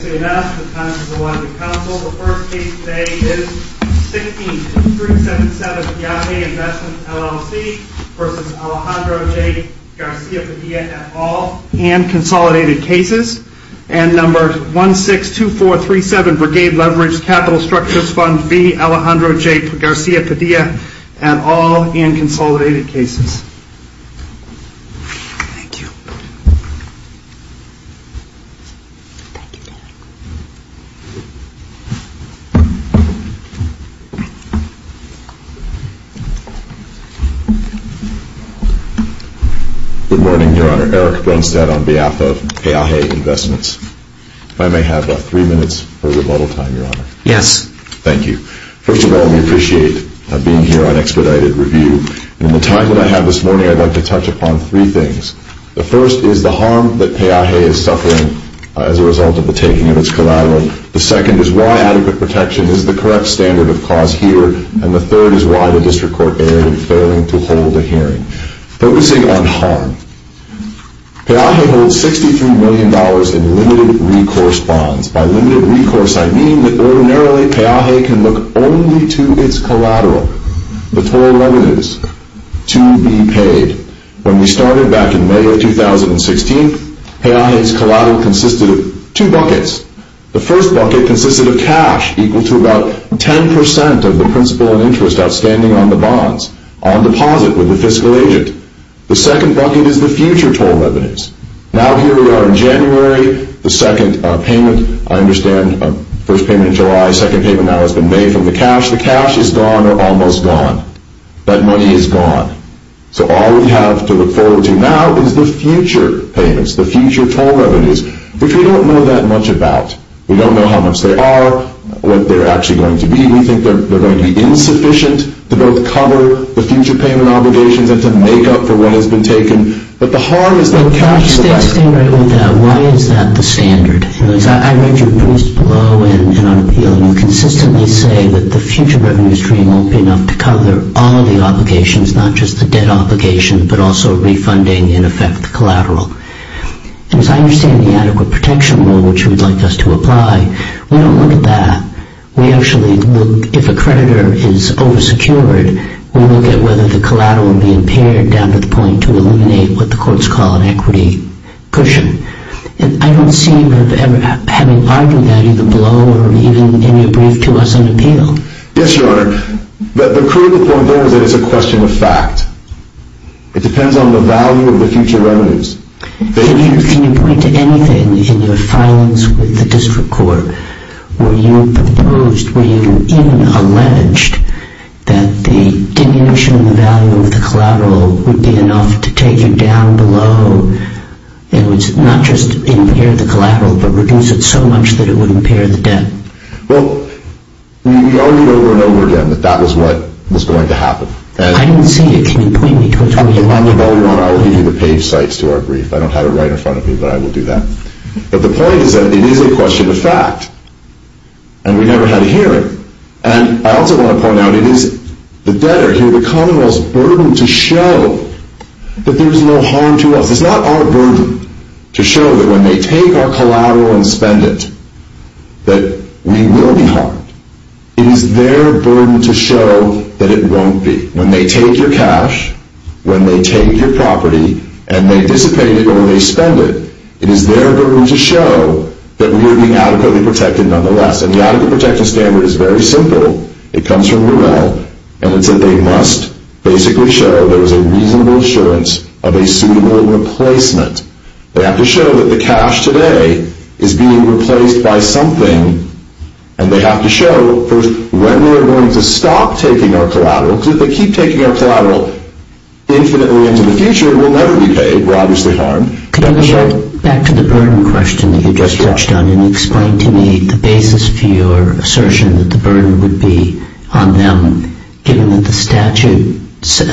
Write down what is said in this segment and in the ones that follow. The first case today is 16-377-Garcia-Todilla-at-all-and-consolidated-cases, and number 16-2437-Brigade-Leveraged-Capital-Structures-Fund-B-Alejandro-Garcia-Todilla-at-all-and-consolidated-cases. Thank you. Good morning, Your Honor. Eric Bernstein on behalf of AIA Investments. If I may have about three minutes for a little time, Your Honor. Yes. Thank you. First of all, we appreciate being here on expedited review. In the time that I have this morning, I'd like to touch upon three things. The first is the harm that PEAJE is suffering as a result of the taking of its collateral. The second is why the protection is the correct standard of cause here. And the third is why the District Court is failing to hold a hearing. Focusing on harm, PEAJE holds $63 million in limited recourse bonds. By limited recourse, I mean that, ordinarily, PEAJE can look only to its collateral, the total evidence, to be paid. When we started back in May of 2016, PEAJE's collateral consisted of two buckets. The first bucket consisted of cash equal to about 10% of the principal and interest outstanding on the bonds, on deposit with the fiscal agent. The second bucket is the future total evidence. Now here we are in January. The second payment, I understand, first payment in July, second payment now has been made. And the cash, the cash is gone or almost gone. That money is gone. So all we have to look forward to now is the future payments, the future total evidence, which we don't know that much about. We don't know how much they are, what they're actually going to be. We think they're going to be insufficient to both cover the future payment obligations and to make up for what has been taken. But the harm has been done. The last thing that comes to our minds is that the standard. I read your briefs well, and I'm feeling consistently today that the future revenue stream won't be enough to cover all of the obligations, not just the debt obligations, but also refunding and effect collateral. And so I understand the adequate protection rule, which you would like us to apply. We don't want that. We actually, if a creditor is oversecured, we need to get rid of the collateral and the interior debt at the point to eliminate what the courts call an equity cushion. And I don't see you ever having a bargain value to blow or even any brief to us on appeal. Yes, Your Honor. But the proof from there is a question of fact. It depends on the value of the future revenues. Can you point to anything in your files with the district court where you proposed, where you even alleged that the diminution of the value of the collateral would be enough to take it down below, not just impair the collateral, but reduce it so much that it would impair the debt? Well, we already remembered then that that was what was going to happen. I don't see it. Your Honor, I would need you to pay Sykes to our brief. I don't have it right in front of me, but I will do that. But the point is that we need a question of fact. And we never had it here. And I also want to point out that the debtor here, the commonwealth's burden to show that there's no harm to us. It's not our burden to show that when they take our collateral and spend it, that we will be harmed. It is their burden to show that it won't be. When they take your cash, when they take your property, and they dissipate it when they spend it, it is their burden to show that we will be adequately protected nonetheless. And the adequate protection standard is very simple. It comes from the law. And they must basically show there's a reasonable assurance of a single replacement. They have to show that the cash today is being replaced by something. And they have to show that when they're going to stop taking our collateral, if they keep taking our collateral infinitely into the future, it will never be taken. We're obviously harmed. Could I just add back to the burden question that you just touched on and explain to me the basis to your assertion that the burden would be on them, given that the statute,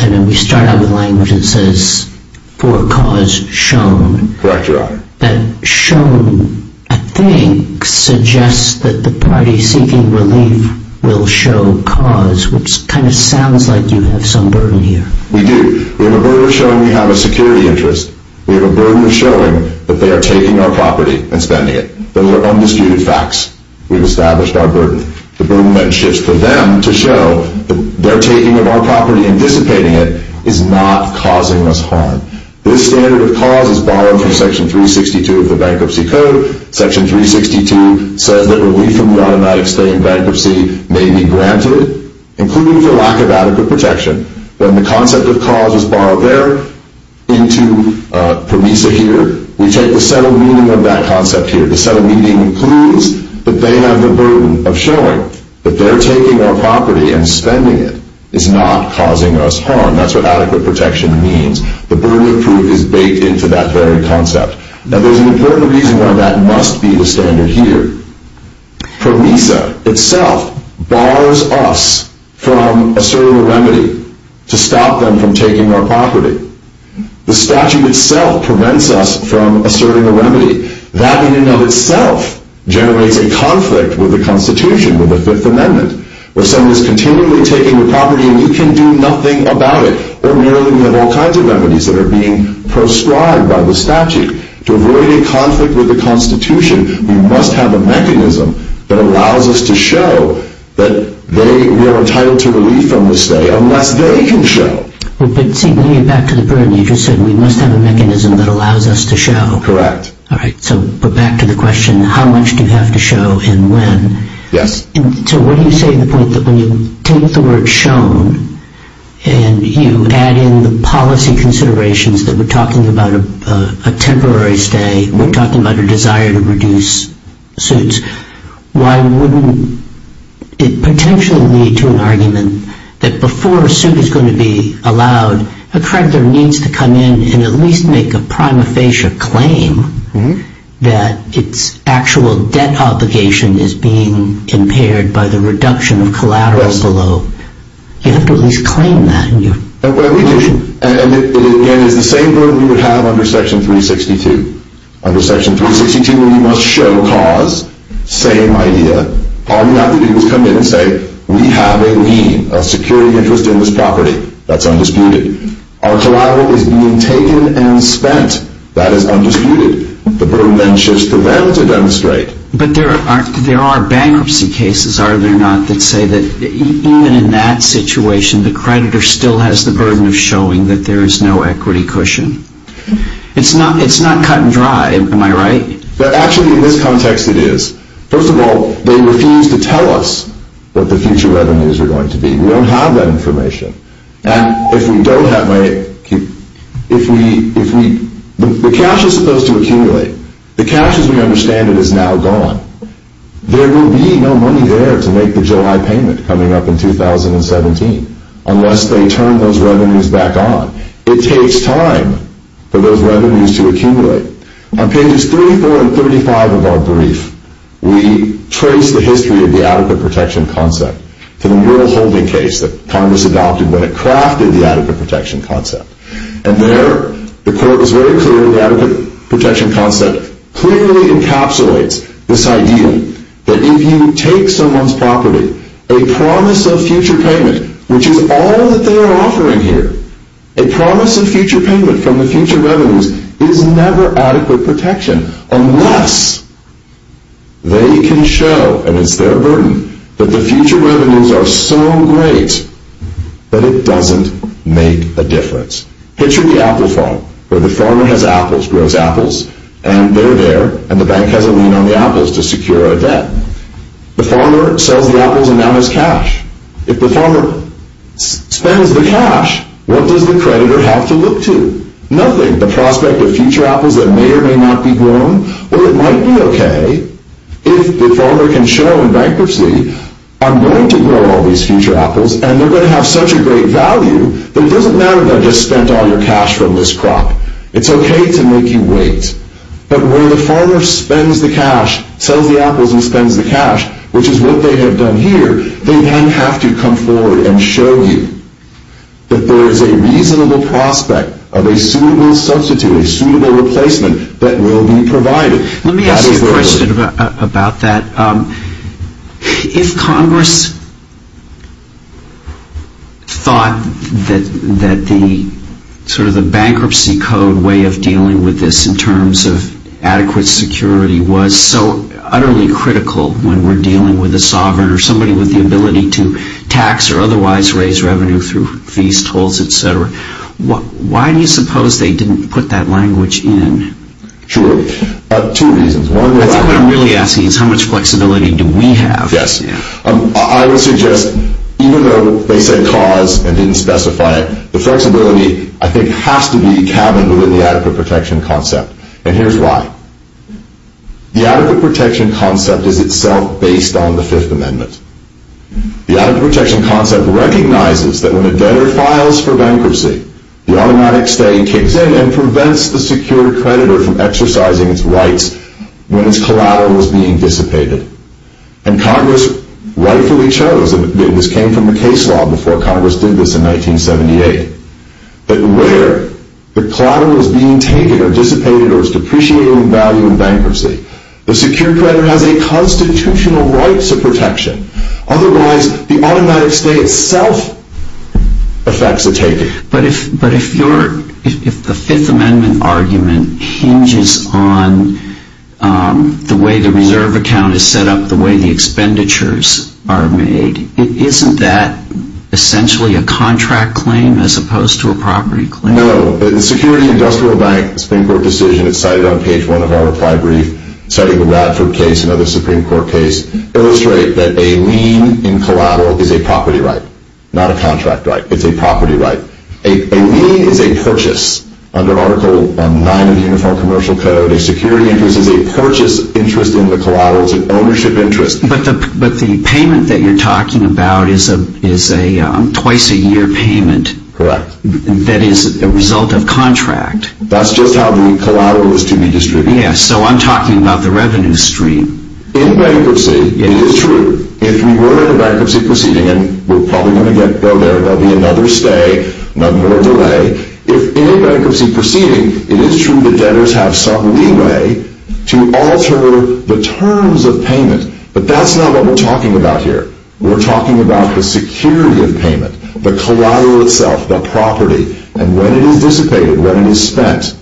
I mean, we start out the language and it says, for a cause shown. Correct, Your Honor. And shown, I think, suggests that the parties seeking relief will show cause, which kind of sounds like you have some burden here. We do. We have a burden of showing we have a security interest. We have a burden of showing that they are taking our property and spending it. Those are undisputed facts. We've established our burden. The burden that it is for them to show that they're taking our property and dissipating it is not causing us harm. This standard of cause is borrowed from Section 362 of the Bankruptcy Code. Section 362 says that a reason why we're not expanding bankruptcy may be granted, including the lack of adequate protection. Then the concept of cause is borrowed there into the reason here. We take a subtle meaning of that concept here. The subtle meaning includes the ban on the burden of showing that they're taking our property and spending it is not causing us harm. That's what adequate protection means. The burden of proof is laid into that very concept. Now there's an important reason why that must be the standard here. PROMESA itself borrows us from a certain remedy to stop them from taking our property. The statute itself prevents us from a certain remedy. That in and of itself generates a conflict with the Constitution, with the Fifth Amendment, where someone is continually taking the property and we can do nothing about it. Or nearly all kinds of remedies that are being proscribed by the statute. To really conflict with the Constitution, we must have a mechanism that allows us to show that we are entitled to relief on this day unless nobody can show. Back to the burden, you just said we must have a mechanism that allows us to show. Correct. So back to the question, how long do we have to show and when? Yes. So what do you say to the point that when you take the word shown and you add in policy considerations that we're talking about a temporary stay, we're talking about a desire to reduce suits, why wouldn't it potentially lead to an argument that before a suit is going to be allowed, a creditor needs to come in and at least make a prima facie claim that it's actual debt obligation is being impaired by the reduction in collateral below. You wouldn't claim that, would you? Well, we can, and in the same way we would have under Section 362. Under Section 362 when we must show cause, same idea. Paul McNabney would come in and say, we have a lien, a security interest in this property that's undisputed. Our collateral is maintained and spent. That is undisputed. The board of ventures prevents a demonstrate. But there are bankruptcy cases, are there not, that say that even in that situation the creditor still has the burden of showing that there is no equity cushion. It's not cotton dry, am I right? Well, actually in this context it is. First of all, they refuse to tell us what the future revenues are going to be. We don't have that information. Now, if we don't have money, if we, if we, the cash is supposed to accumulate. The cash as we understand it is now gone. There will be no money there to make the July payment coming up in 2017 unless they turn those revenues back on. It takes time for those revenues to accumulate. On pages 34 and 35 of our brief, we trace the history of the adequate protection concept to the real holding case that Congress adopted when it crafted the adequate protection concept. And there, the court was very clear that the adequate protection concept clearly encapsulates this idea that if you take someone's property, a promise of future payment, which is all that they are offering here, a promise of future payment from the future revenues is never adequate protection unless they can show, and it's very important, that the future revenues are so great that it doesn't make a difference. Picture the apple farm, where the farmer has apples, grows apples, and they're there, and the bank hasn't loaned the apples to secure a debt. The farmer sells the apples and now has cash. If the farmer spends the cash, what does the creditor have to look to? Nothing. The prospect of future apples that may or may not be grown, but it might be okay if the farmer can show rightfully, I'm going to grow all these future apples, and they're going to have such a great value, that it doesn't matter that I just spent all your cash from this crop. It's okay to make you wait. But when the farmer spends the cash, sells the apples and spends the cash, which is what they have done here, they then have to come forward and show you that there is a reasonable prospect of a suitable substitute, a suitable replacement that will be provided. Let me ask you a question about that. If Congress thought that the bankruptcy code way of dealing with this in terms of adequate security was so utterly critical when we're dealing with a sovereign or somebody with the ability to tax or otherwise raise revenue through fees, tolls, etc., why do you suppose they didn't put that language in? Two reasons. One, what I'm really asking is how much flexibility do we have? Yes. I would suggest, even though they can cause and even specify it, the flexibility, I think, has to be counted in the adequate protection concept. And here's why. The adequate protection concept is itself based on the Fifth Amendment. The adequate protection concept recognizes that when a debtor files for bankruptcy, the automatic study kicks in and prevents the secured creditor from exercising his rights when his collateral is being dissipated. And Congress rightfully chose, and this came from the case law before Congress did this in 1978, that where the collateral is being taken or dissipated or is depreciating in value in bankruptcy, the secured creditor has a constitutional right to protection. Otherwise, the automatic stay itself affects the taking. But if the Fifth Amendment argument hinges on the way the reserve account is set up, the way the expenditures are made, isn't that essentially a contract claim as opposed to a property claim? No. The Security and Justicial Bank Springboard decision that's cited on page 11 of my brief, citing the Bradford case, another Supreme Court case, illustrates that a lien in collateral is a property right, not a contract right. It's a property right. A lien is a purchase. Under Article 9 of the Uniform Commercial Code, a security interest is a purchase interest into collateral. It's an ownership interest. But the payment that you're talking about is a twice-a-year payment. Correct. That is a result of contract. That's just how many collaterals can be distributed. Yes, so I'm talking about the revenue stream. In bankruptcy, it is true, if you were in a bankruptcy proceeding, and we're probably going to get there, there'll be another stay, not more of the way. If in a bankruptcy proceeding, it is true that debtors have some leeway to alter the terms of payment, but that's not what we're talking about here. We're talking about the security of payment, the collateral itself, the property, and when it is dissipated, when it is spent,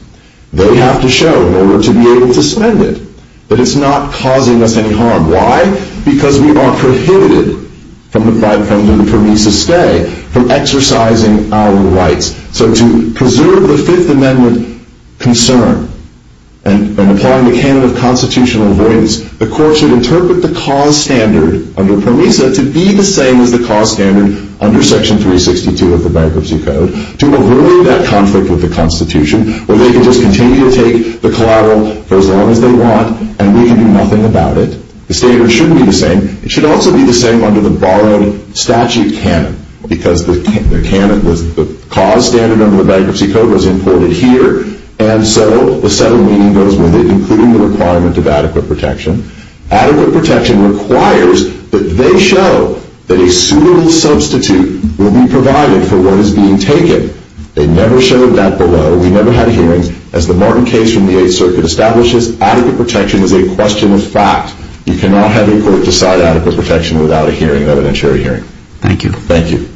that we have to show in order to be able to spend it, that it's not causing us any harm. Why? Because we are prohibited from the 5th Amendment from use to stay, from exercising our rights. So to preserve the Fifth Amendment concern and applying the canon of constitutional rights, the court should interpret the cause standard under Proviso to be the same as the cause standard under Section 362 of the Bankruptcy Code to avoid that conflict with the Constitution where debtors can continue to take the collateral for as long as they want and we can do nothing about it. The standard shouldn't be the same. It should also be the same under the barren statute canon because the canon with the cause standard under the Bankruptcy Code is important here, and so the Senate will need those when they include the requirement of adequate protection. Adequate protection requires that they show that a suitable substitute will be provided for what is being taken. They never showed that below. We never had hearings. As the Martin case from the 8th Circuit establishes, adequate protection is a question of fact. You cannot have a court decide adequate protection without a hearing, other than a jury hearing. Thank you. Thank you. Thank you.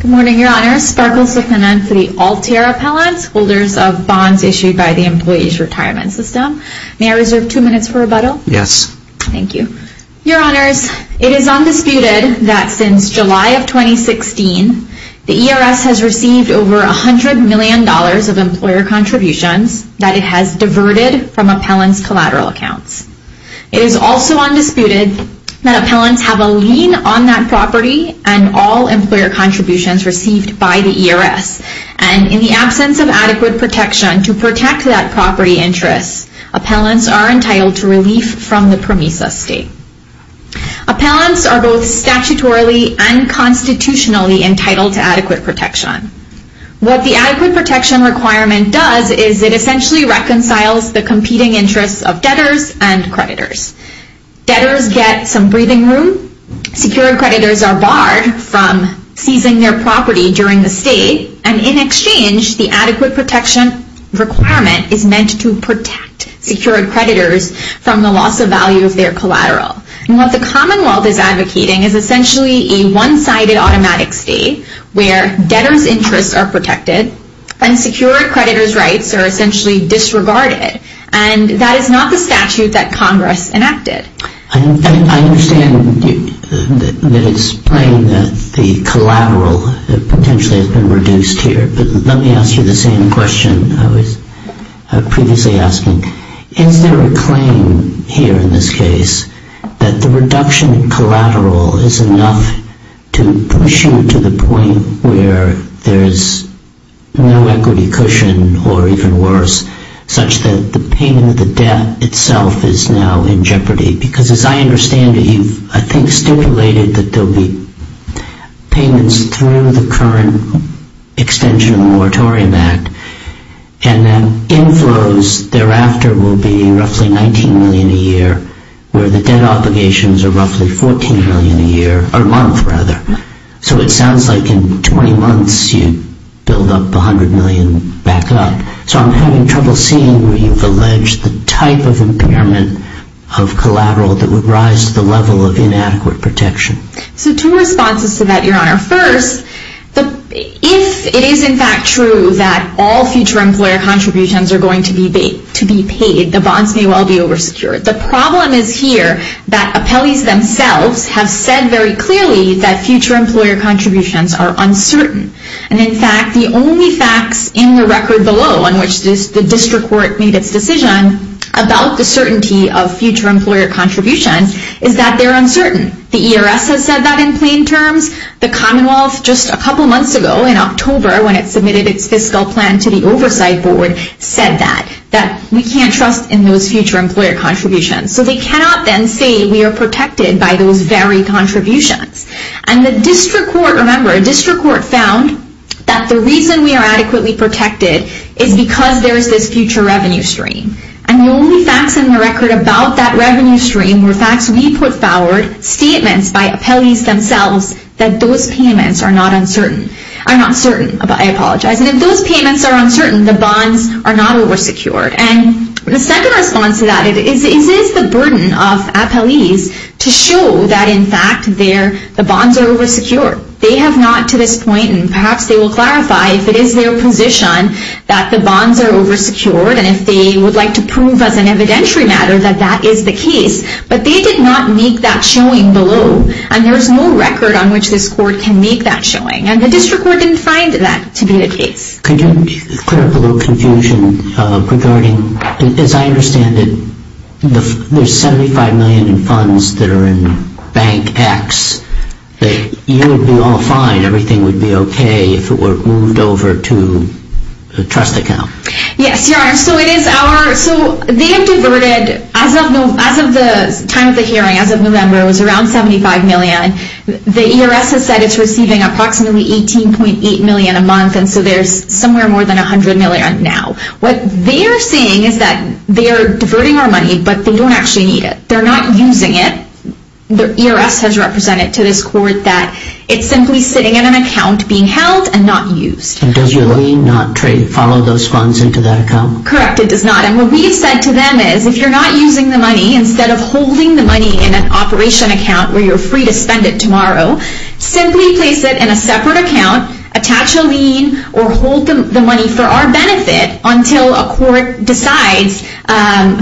Good morning, Your Honors. Sparkles with her name for the Altair Appellants, holders of bonds issued by the Employees Retirement System. May I reserve two minutes for rebuttal? Yes. Thank you. Your Honors, it is undisputed that since July of 2016, the ERS has received over $100 million of employer contributions that it has diverted from appellants' collateral accounts. It is also undisputed that appellants have a lien on that property and all employer contributions received by the ERS, and in the absence of adequate protection to protect that property interest, appellants are entitled to relief from the PROMESA state. Appellants are both statutorily and constitutionally entitled to adequate protection. What the adequate protection requirement does is it essentially reconciles the competing interests of debtors and creditors. Debtors get some breathing room, secure creditors are barred from seizing their property during the state, and in exchange, the adequate protection requirement is meant to protect secured creditors from the loss of value of their collateral. What the Commonwealth is advocating is essentially a one-sided automatic state where debtors' interests are protected, and secured creditors' rights are essentially disregarded, and that is not the statute that Congress enacted. I understand that it is plain that the collateral potentially has been reduced here, but let me ask you the same question I previously asked you. In your claim here in this case, that the reduction in collateral is enough to push you to the point where there is no equity cushion, or even worse, such that the payment of the debt itself is now in jeopardy, because as I understand it, you, I think, stipulated that there will be payments through the current extension of the Moratorium Act, and then in those, thereafter, will be roughly $19 million a year, where the debt obligations are roughly $14 million a year, or a month, rather. So it sounds like in 20 months, you'd build up the $100 million backlog. So I'm having trouble seeing where you've alleged the type of impairment of collateral that would rise to the level of inadequate protection. So two responses to that, Your Honor. First, if it is in fact true that all future employer contributions are going to be paid, the bonds may well be oversecured. The problem is here that appellees themselves have said very clearly that future employer contributions are uncertain. And in fact, the only fact in the record below, in which the district court made its decision about the certainty of future employer contributions, is that they're uncertain. The ERS has said that in plain terms. The Commonwealth, just a couple months ago, in October, when it submitted its fiscal plan to the Oversight Board, said that. We can't trust in those future employer contributions. So they cannot then say we are protected by those very contributions. And the district court, remember, the district court found that the reason we are adequately protected is because there is this future revenue stream. And the only fact in the record about that revenue stream was that we put forward statements by appellees themselves I'm not certain, but I apologize. And if those payments are uncertain, the bonds are not oversecured. And the second response to that is, is this a burden of appellees to show that, in fact, the bonds are oversecured? They have not to this point, and perhaps they will clarify, if it is their position that the bonds are oversecured, and if they would like to prove as an evidentiary matter that that is the case. But they did not make that showing below. And there is no record on which this court can make that showing. And the district court didn't find that to be the case. Could you clear up a little confusion regarding, as I understand it, the $75 million in funds that are in the bank tax, that you would be all fine, everything would be okay, if it were moved over to the trust account? Yes, your honor, so it is our, so, they converted, as of the time of the hearing, as of November, it was around $75 million. The E.R.S. has said it is receiving approximately $18.8 million a month, and so there is somewhere more than $100 million now. What they are saying is that they are diverting our money, but they don't actually need it. They are not using it. The E.R.S. has represented to this court that it is simply sitting in an account, being held, and not used. And does your money not trade, follow those funds into that account? Correct, it does not. And what we have said to them is, if you are not using the money, instead of holding the money in an operation account, where you are free to spend it tomorrow, simply place it in a separate account, attach a lien, or hold the money for our benefit, until a court decides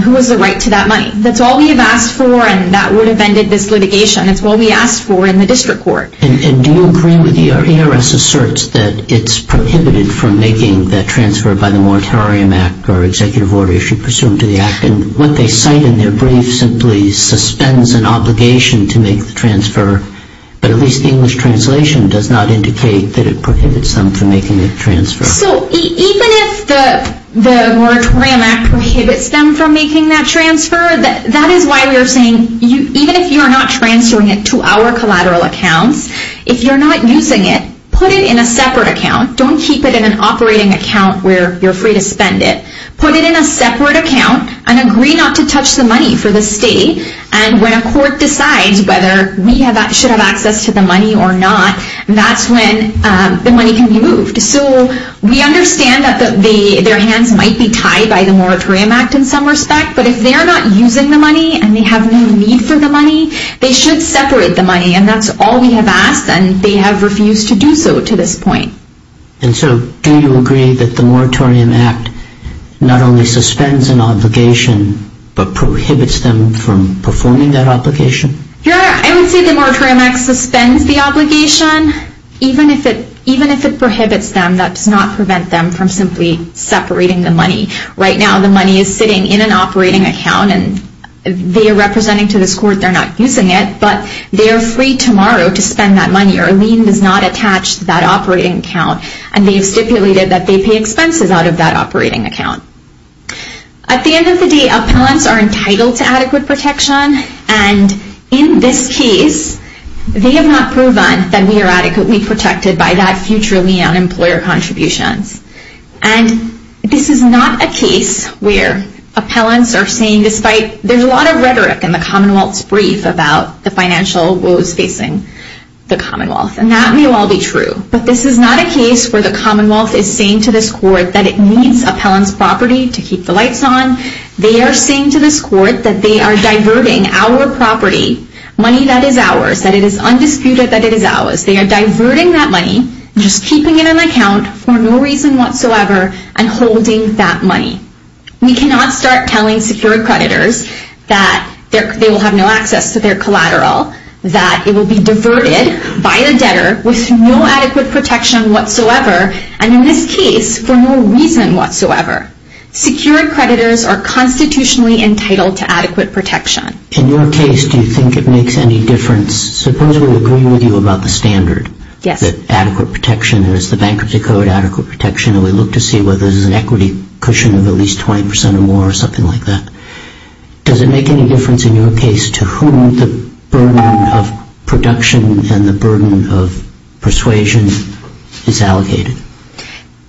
who has the right to that money. That is all we have asked for, and that would have ended this litigation. It is all we asked for in the district court. And do you agree with the E.R.S. asserts that it is prohibited from making that transfer by the moratorium act, or executive order, if you presume to be asking? What they say in their brief simply suspends an obligation to make the transfer, but at least the English translation does not indicate that it prohibits them from making that transfer. So, even if the moratorium act prohibits them from making that transfer, that is why we are saying, even if you are not transferring it to our collateral account, if you are not using it, put it in a separate account. Don't keep it in an operating account where you are free to spend it. Put it in a separate account, and agree not to touch the money for the state, and when a court decides whether we should have access to the money or not, that is when the money will be moved. So, we understand that their hands might be tied by the moratorium act in some respect, but if they are not using the money, and they have no need for the money, they should separate the money, and that is all we have asked, and they have refused to do so to this point. And so, do you agree that the moratorium act not only suspends an obligation, but prohibits them from performing that obligation? Yeah, I would say the moratorium act suspends the obligation, even if it prohibits them, that does not prevent them from simply separating the money. Right now, the money is sitting in an operating account, and they are representing to this court they are not using it, but they are free tomorrow to spend that money, or a lien does not attach to that operating account, and they have stipulated that they pay expenses out of that operating account. At the end of the day, appellants are entitled to adequate protection, and in this case, they have not proven that they are adequately protected by that future lien on employer contributions. And this is not a case where appellants are seen, despite there is a lot of rhetoric in the Commonwealth Brief about the financial woes facing the Commonwealth. And that may well be true. But this is not a case where the Commonwealth is saying to this court that it needs appellants' property to keep the lights on. They are saying to this court that they are diverting our property, money that is ours, that it is undisputed that it is ours. They are diverting that money, just keeping it in an account for no reason whatsoever, and holding that money. We cannot start telling secured creditors that they will have no access to their collateral, that it will be diverted by a debtor with no adequate protection whatsoever, and in this case, for no reason whatsoever. Secured creditors are constitutionally entitled to adequate protection. In your case, do you think it makes any difference? Suppose we agree with you about the standard, that adequate protection, there is the Bankruptcy Code, adequate protection, and we look to see whether there is an equity cushion of at least 20% or more, or something like that. Does it make any difference in your case to whom the burden of productions and the burden of persuasions is allocated?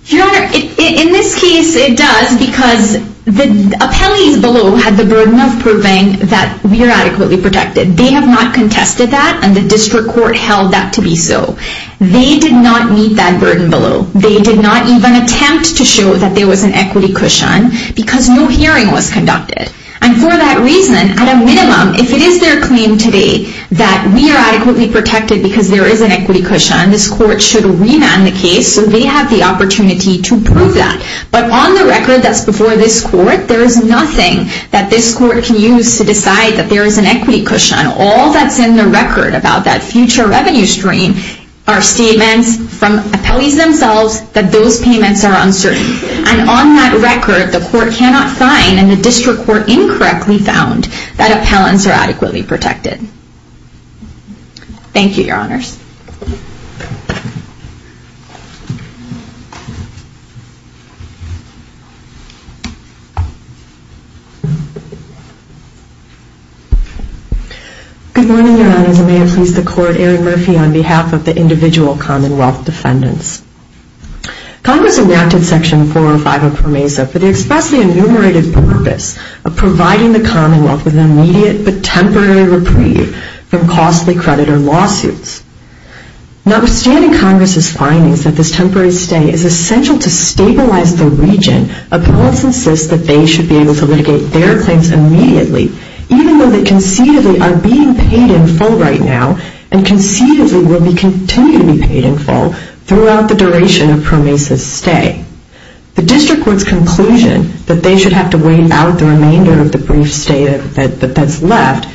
Your Honor, in this case, it does, because the appellees below have the burden of proving that we are adequately protected. They have not contested that, and the district court held that to be so. They did not meet that burden below. They did not even attempt to show that there was an equity cushion because no hearing was conducted. And for that reason, at a minimum, if it is their claim to date that we are adequately protected because there is an equity cushion, this court should remand the case so they have the opportunity to prove that. But on the record, as before this court, there is nothing that this court can use to decide that there is an equity cushion. All that's in the record about that future revenue stream are statements from appellees themselves that those payments are uncertain. And on that record, the court cannot sign, and the district court incorrectly found that appellants are adequately protected. Thank you, Your Honors. Good morning, Your Honor. I'm going to introduce the court, Aaron Murphy, on behalf of the individual commonwealth defendants. Congress enacted Section 405 of PROMESA for the expressly enumerated purpose of providing the commonwealth with an immediate but temporary reprieve from costly credit or lawsuits. Now, withstanding Congress's findings that this temporary stay is essential to stabilize the region, appellants insist that they should be able to regate their claims immediately, even though they conceivably are being paid in full right now and conceivably will be continually paid in full throughout the duration of PROMESA's stay. The district court's conclusion that they should have to wait out the remainder of the brief stay that's left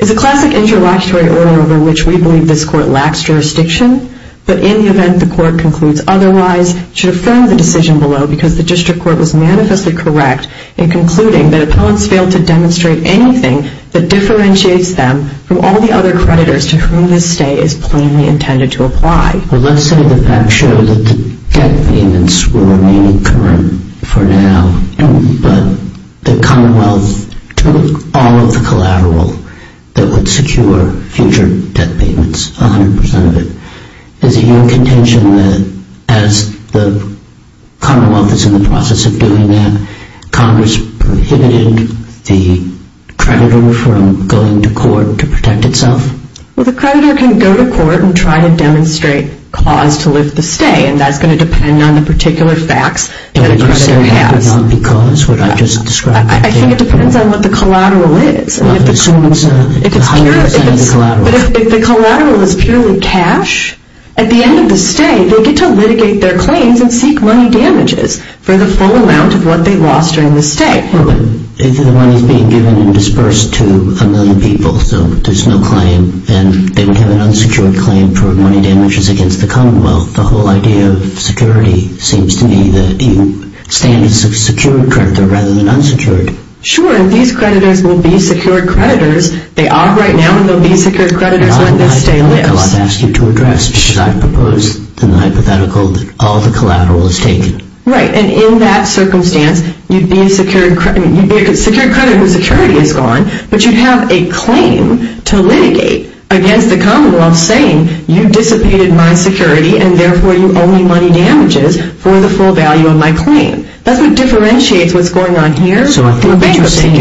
is a classic interlocutory order over which we believe this court lacks jurisdiction, but in the event the court concludes otherwise, should affirm the decision below because the district court was manifestly correct in concluding that appellants fail to demonstrate anything that differentiates them from all the other creditors to whom this stay is plainly intended to apply. Well, listen to the fact show that the debt payments will remain permanent for now and the commonwealth took all of the collateral that would secure future debt payments 100 percent of it. There's even contention that as the commonwealth is in the process of doing that, PROMESA is prohibiting the creditor from going to court to protect itself? Well, the creditor can go to court and try to demonstrate clause to lift the stay and that's going to depend on the particular facts. Is the creditor going to have a lot of the clause that I just described? I think it depends on what the collateral is. If it's hundreds of the collateral? If the collateral is purely cash, at the end of the stay, they get to litigate their claims and seek money damages for the full amount of what they lost during the stay. If the money is being given and disbursed to a million people, so there's no claim, then there's no unsecured claim for money damages against the commonwealth. The whole idea of security seems to me to stand as a secured creditor rather than unsecured. Sure, and these creditors would be secured creditors. They are right now and they'll be secured creditors. I'd like to ask you to address, should I propose, hypothetically, that all the collateral is taken? Right, and in that circumstance, you'd be a secured creditor. You'd be a secured creditor who's attorney would go on, but you'd have a claim to litigate against the commonwealth saying, you disobeyed my security and therefore you owe me money damages for the full value of my claim. That doesn't differentiate what's going on here from what's going on here.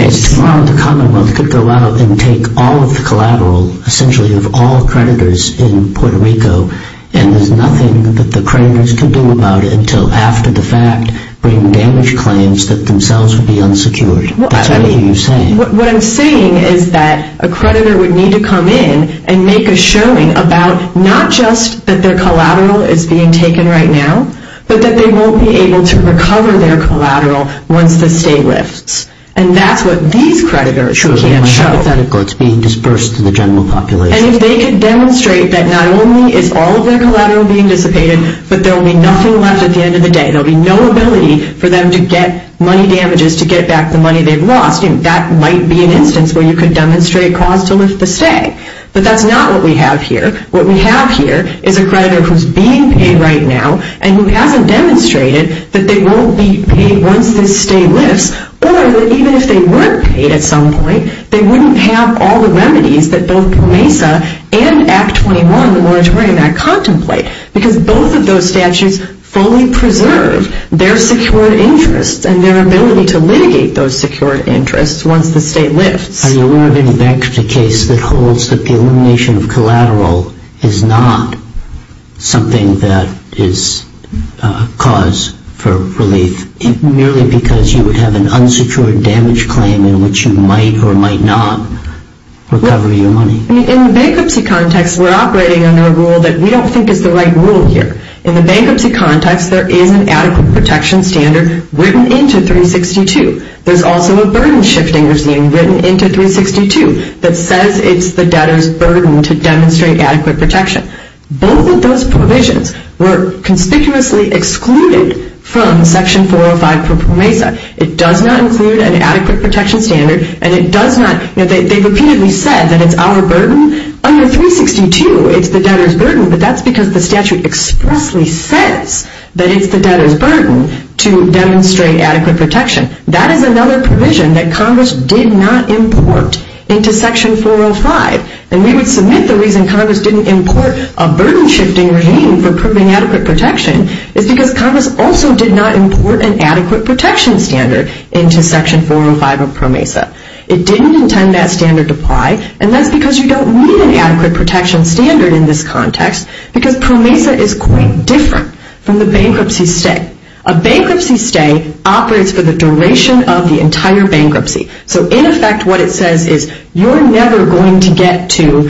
The commonwealth could go out and take all of the collateral, essentially of all creditors in Puerto Rico, and there's nothing that the creditors can do about it until after the fact, putting damage claims that themselves would be unsecured. Is that what you're saying? What I'm saying is that a creditor would need to come in and make a showing about, not just that their collateral is being taken right now, but that they won't be able to recover their collateral once the state lists. And that's what these creditors can show. It's being disbursed to the general population. And they demonstrate that not only is all of their collateral being dissipated, but there will be nothing left at the end of the day. There will be no ability for them to get money damages to get back the money they've lost, and that might be an instance where you could demonstrate consolence per se. But that's not what we have here. What we have here is a creditor who's being paid right now, and we haven't demonstrated that they won't be paid once the state lists, or that even if they weren't paid at some point, they wouldn't have all the remedies that both MESA and Act 21, the World Trade Act, contemplate, because both of those statutes fully preserve their secured interests and their ability to litigate those secured interests once the state lists. So you're moving next to a case that holds that the elimination of collateral is not something that is cause for relief, merely because you would have an unsecured damage claim in which you might or might not recover your money. In the bankruptcy context, we're operating under a rule that we don't think is the right rule here. In the bankruptcy context, there is an adequate protection standard written into 362. There's also a burden shifting regime written into 362 that says it's the debtor's burden to demonstrate adequate protection. Both of those provisions were conspicuously excluded from Section 405 for MESA. It does not include an adequate protection standard, and it does not... They repeatedly said, and it's our burden. Under 362, it's the debtor's burden, but that's because the statute explicitly says that it's the debtor's burden to demonstrate adequate protection. That is another provision that Congress did not import into Section 405, and maybe for this reason Congress didn't import a burden shifting regime for proving adequate protection is because Congress also did not import an adequate protection standard into Section 405 of PROMESA. It didn't intend that standard to apply, and that's because you don't need an adequate protection standard in this context because PROMESA is quite different from the bankruptcy stay. A bankruptcy stay operates for the duration of the entire bankruptcy. So, in effect, what it says is you're never going to get to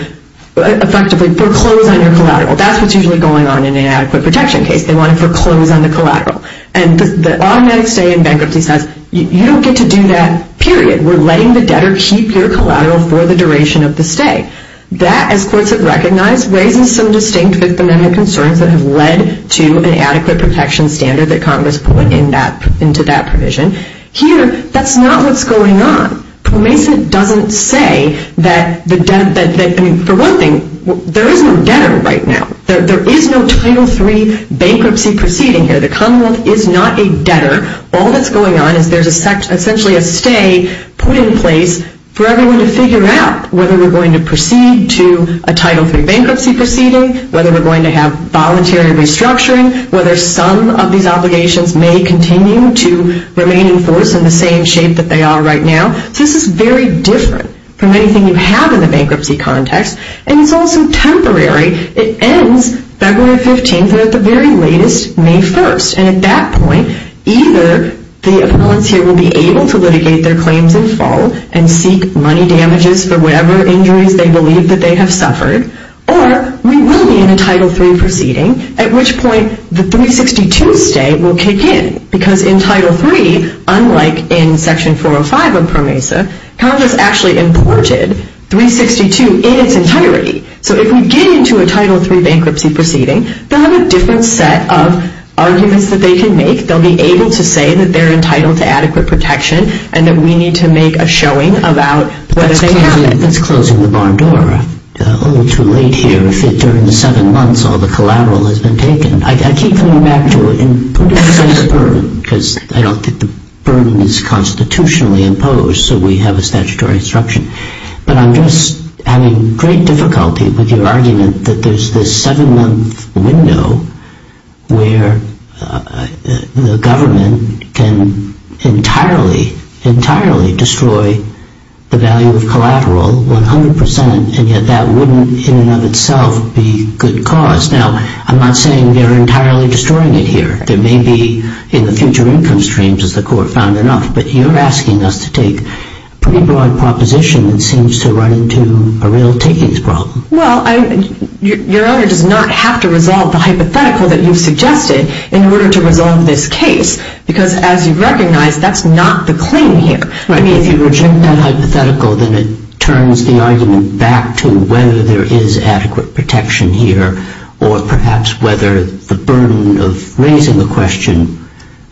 effectively proclaim that you're collateral. That's what's usually going on in an adequate protection case. They want you to proclaim that you're collateral. And the automatic stay in bankruptcy says you don't get to do that, period. We're letting the debtor keep your collateral for the duration of the stay. That, as courts have recognized, raises some distinct diplomatic concerns that have led to an adequate protection standard that Congress put into that provision. Here, that's not what's going on. PROMESA doesn't say that the debtor... For one thing, there is no debtor right now. There is no Title III bankruptcy proceeding here. The commonwealth is not a debtor. All that's going on is there's essentially a stay put in place for everyone to figure out whether we're going to proceed to a Title III bankruptcy proceeding, whether we're going to have voluntary restructuring, whether some of these obligations may continue to remain in force in the same shape that they are right now. This is very different from anything you have in a bankruptcy context. And it's also temporary. It ends February 15th. We're at the very latest, May 1st. And at that point, either the court here will be able to litigate their claims in full and seek money damages for whatever injury they believe that they have suffered, or we will be in a Title III proceeding, at which point the 362 stay will kick in. Because in Title III, unlike in Section 405 on PROMESA, Congress actually imported 362 in its entirety. So if we get into a Title III bankruptcy proceeding, there's a different set of arguments that they can make. They'll be able to say that they're entitled to adequate protection and that we need to make a showing about whether they have it. I was closing the bar door. It's a little too late here. If it's during the 7-1s, all the collateral has been taken. I keep coming back to it. Who gets the first burn? Because, you know, the burning is constitutionally imposed, so we have a statutory instruction. But I'm just having great difficulty with your argument that there's the 7-1 window where the government can entirely, entirely destroy the value of collateral 100%, and that that wouldn't in and of itself be good cause. Now, I'm not saying they're entirely destroying it here. There may be in the future income streams, as the Court found, enough. But you're asking us to take a pretty broad proposition that seems to run into a real takings problem. Well, your argument does not have to resolve the hypothetical that you suggested in order to resolve this case because, as you recognize, that's not the clean hit. If you reject that hypothetical, then it turns the argument back to whether there is adequate protection here or perhaps whether the burden of raising the question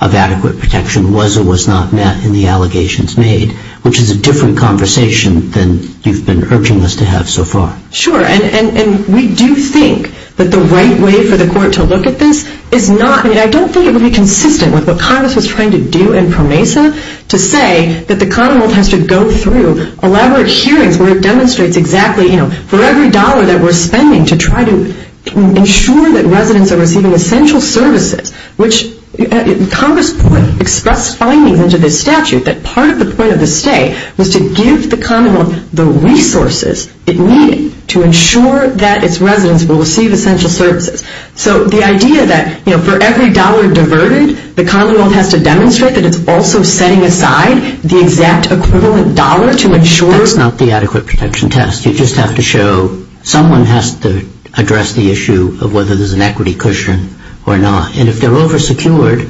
of adequate protection was or was not met in the allegations made, which is a different conversation than you've been urging us to have so far. Sure, and we do think that the right way for the Court to look at this is not... I mean, I don't think it would be consistent with what Congress is trying to do in PROMESA to say that the condo has to go through elaborate hearings where it demonstrates exactly, you know, for every dollar that we're spending to try to ensure that residents are receiving essential services, which Congress expressed findings in the statute that part of the point of the stay was to give the condo the resources it needed to ensure that its residents will receive essential services. So the idea that, you know, for every dollar diverted, the condo won't have to demonstrate that it's also setting aside the exact equivalent dollar to ensure... That's not the adequate protection test. You just have to show someone has to address the issue of whether there's an equity cushion or not. And if they're oversecured,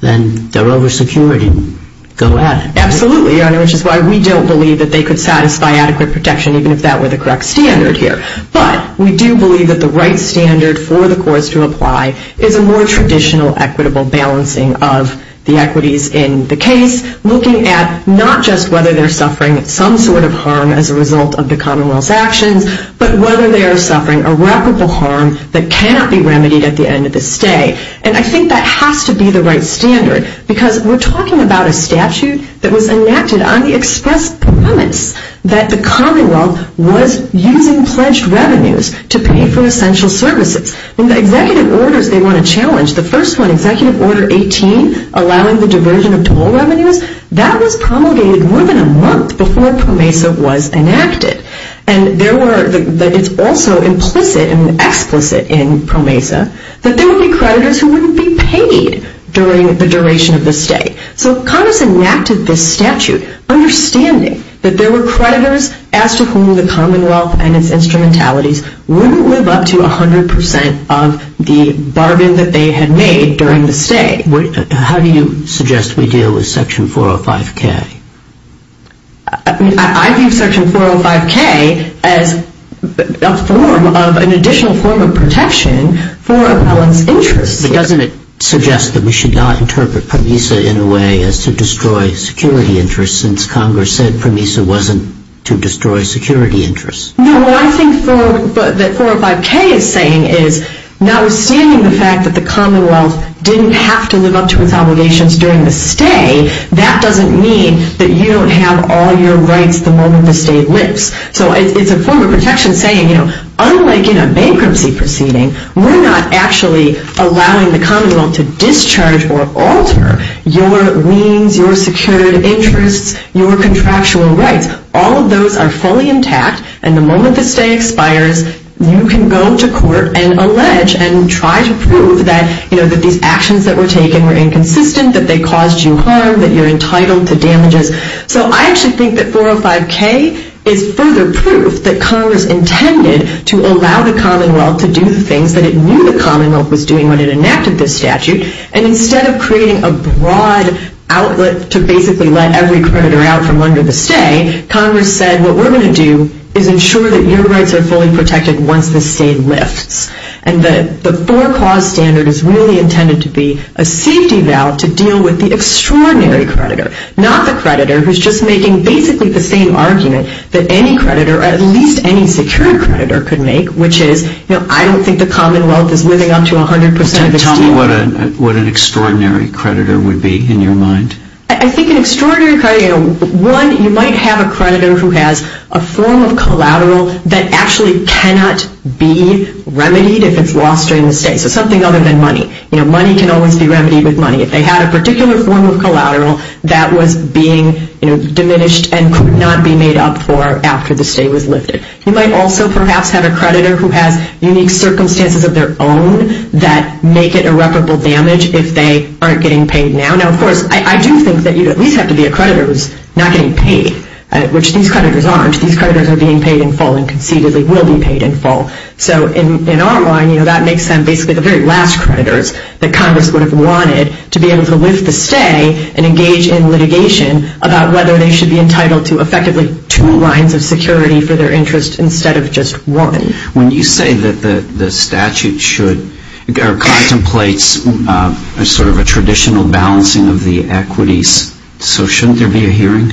then they're oversecured and go at it. Absolutely, which is why we don't believe that they could satisfy adequate protection even if that were the correct standard here. But we do believe that the right standard for the courts to apply is a more traditional equitable balancing of the equities in the case, looking at not just whether they're suffering some sort of harm as a result of the Commonwealth's actions, but whether they are suffering irreparable harm that cannot be remedied at the end of the stay. And I think that has to be the right standard because we're talking about a statute that was enacted on the express promise that the Commonwealth was using pledged revenues to pay for essential services. And the executive orders they want to challenge, the first one, Executive Order 18, allowing the diversion of total revenues, that was promulgated more than a month before PROMESA was enacted. And there were...that is also implicit and explicit in PROMESA that there would be creditors who wouldn't be paid during the duration of the stay. So PROMESA enacted this statute understanding that there were creditors as to whom the Commonwealth and its instrumentalities wouldn't live up to 100% of the bargain that they had made during the stay. How do you suggest we deal with Section 405K? I think Section 405K as a form of...an additional form of protection for one's interests. But doesn't it suggest that we should not interpret PROMESA in a way as to destroy security interests since Congress said PROMESA wasn't to destroy security interests? No, what I think that 405K is saying is, now assuming the fact that the Commonwealth didn't have to live up to its obligations during the stay, that doesn't mean that you don't have all your rights the moment the stay lifts. So it's a form of protection saying, you know, unlike in a bankruptcy proceeding, we're not actually allowing the Commonwealth to discharge or alter your means, your security interests, your contractual rights. All of those are fully intact, and the moment the stay expires, you can go into court and allege and try to prove that, you know, that these actions that were taken were inconsistent, that they caused you harm, that you're entitled to damages. So I actually think that 405K is further proof that Congress intended to allow the Commonwealth to do the things that it knew the Commonwealth was doing when it enacted this statute, and instead of creating a broad outlet to basically let every creditor out from under the stay, Congress said, what we're going to do is ensure that your rights are fully protected once the stay lifts. And the four clause standard is really intended to be a safety valve to deal with the extraordinary creditor, not the creditor who's just making basically the same argument that any creditor, at least any secure creditor, could make, which is, you know, I don't think the Commonwealth is living up to 100% in health. What an extraordinary creditor would be in your mind? I think an extraordinary creditor, one, you might have a creditor who has a form of collateral that actually cannot be remedied if it's lost during the stay. It's something other than money. You know, money can only be remedied with money. If they have a particular form of collateral that was being diminished and could not be made up for after the stay was lifted. You might also perhaps have a creditor who has unique circumstances of their own that make it irreparable damage if they aren't getting paid now. Now, of course, I do think that you'd at least have to be a creditor who's not getting paid, which these creditors aren't. These creditors are being paid in full and conceivably will be paid in full. So in our mind, you know, that makes them basically the very last creditors that Congress would have wanted to be able to lose the stay and engage in litigation about whether they should be entitled to effectively two lines of security for their interest instead of just one. When you say that the statute should, or contemplates sort of a traditional balancing of the equities, so shouldn't there be a hearing?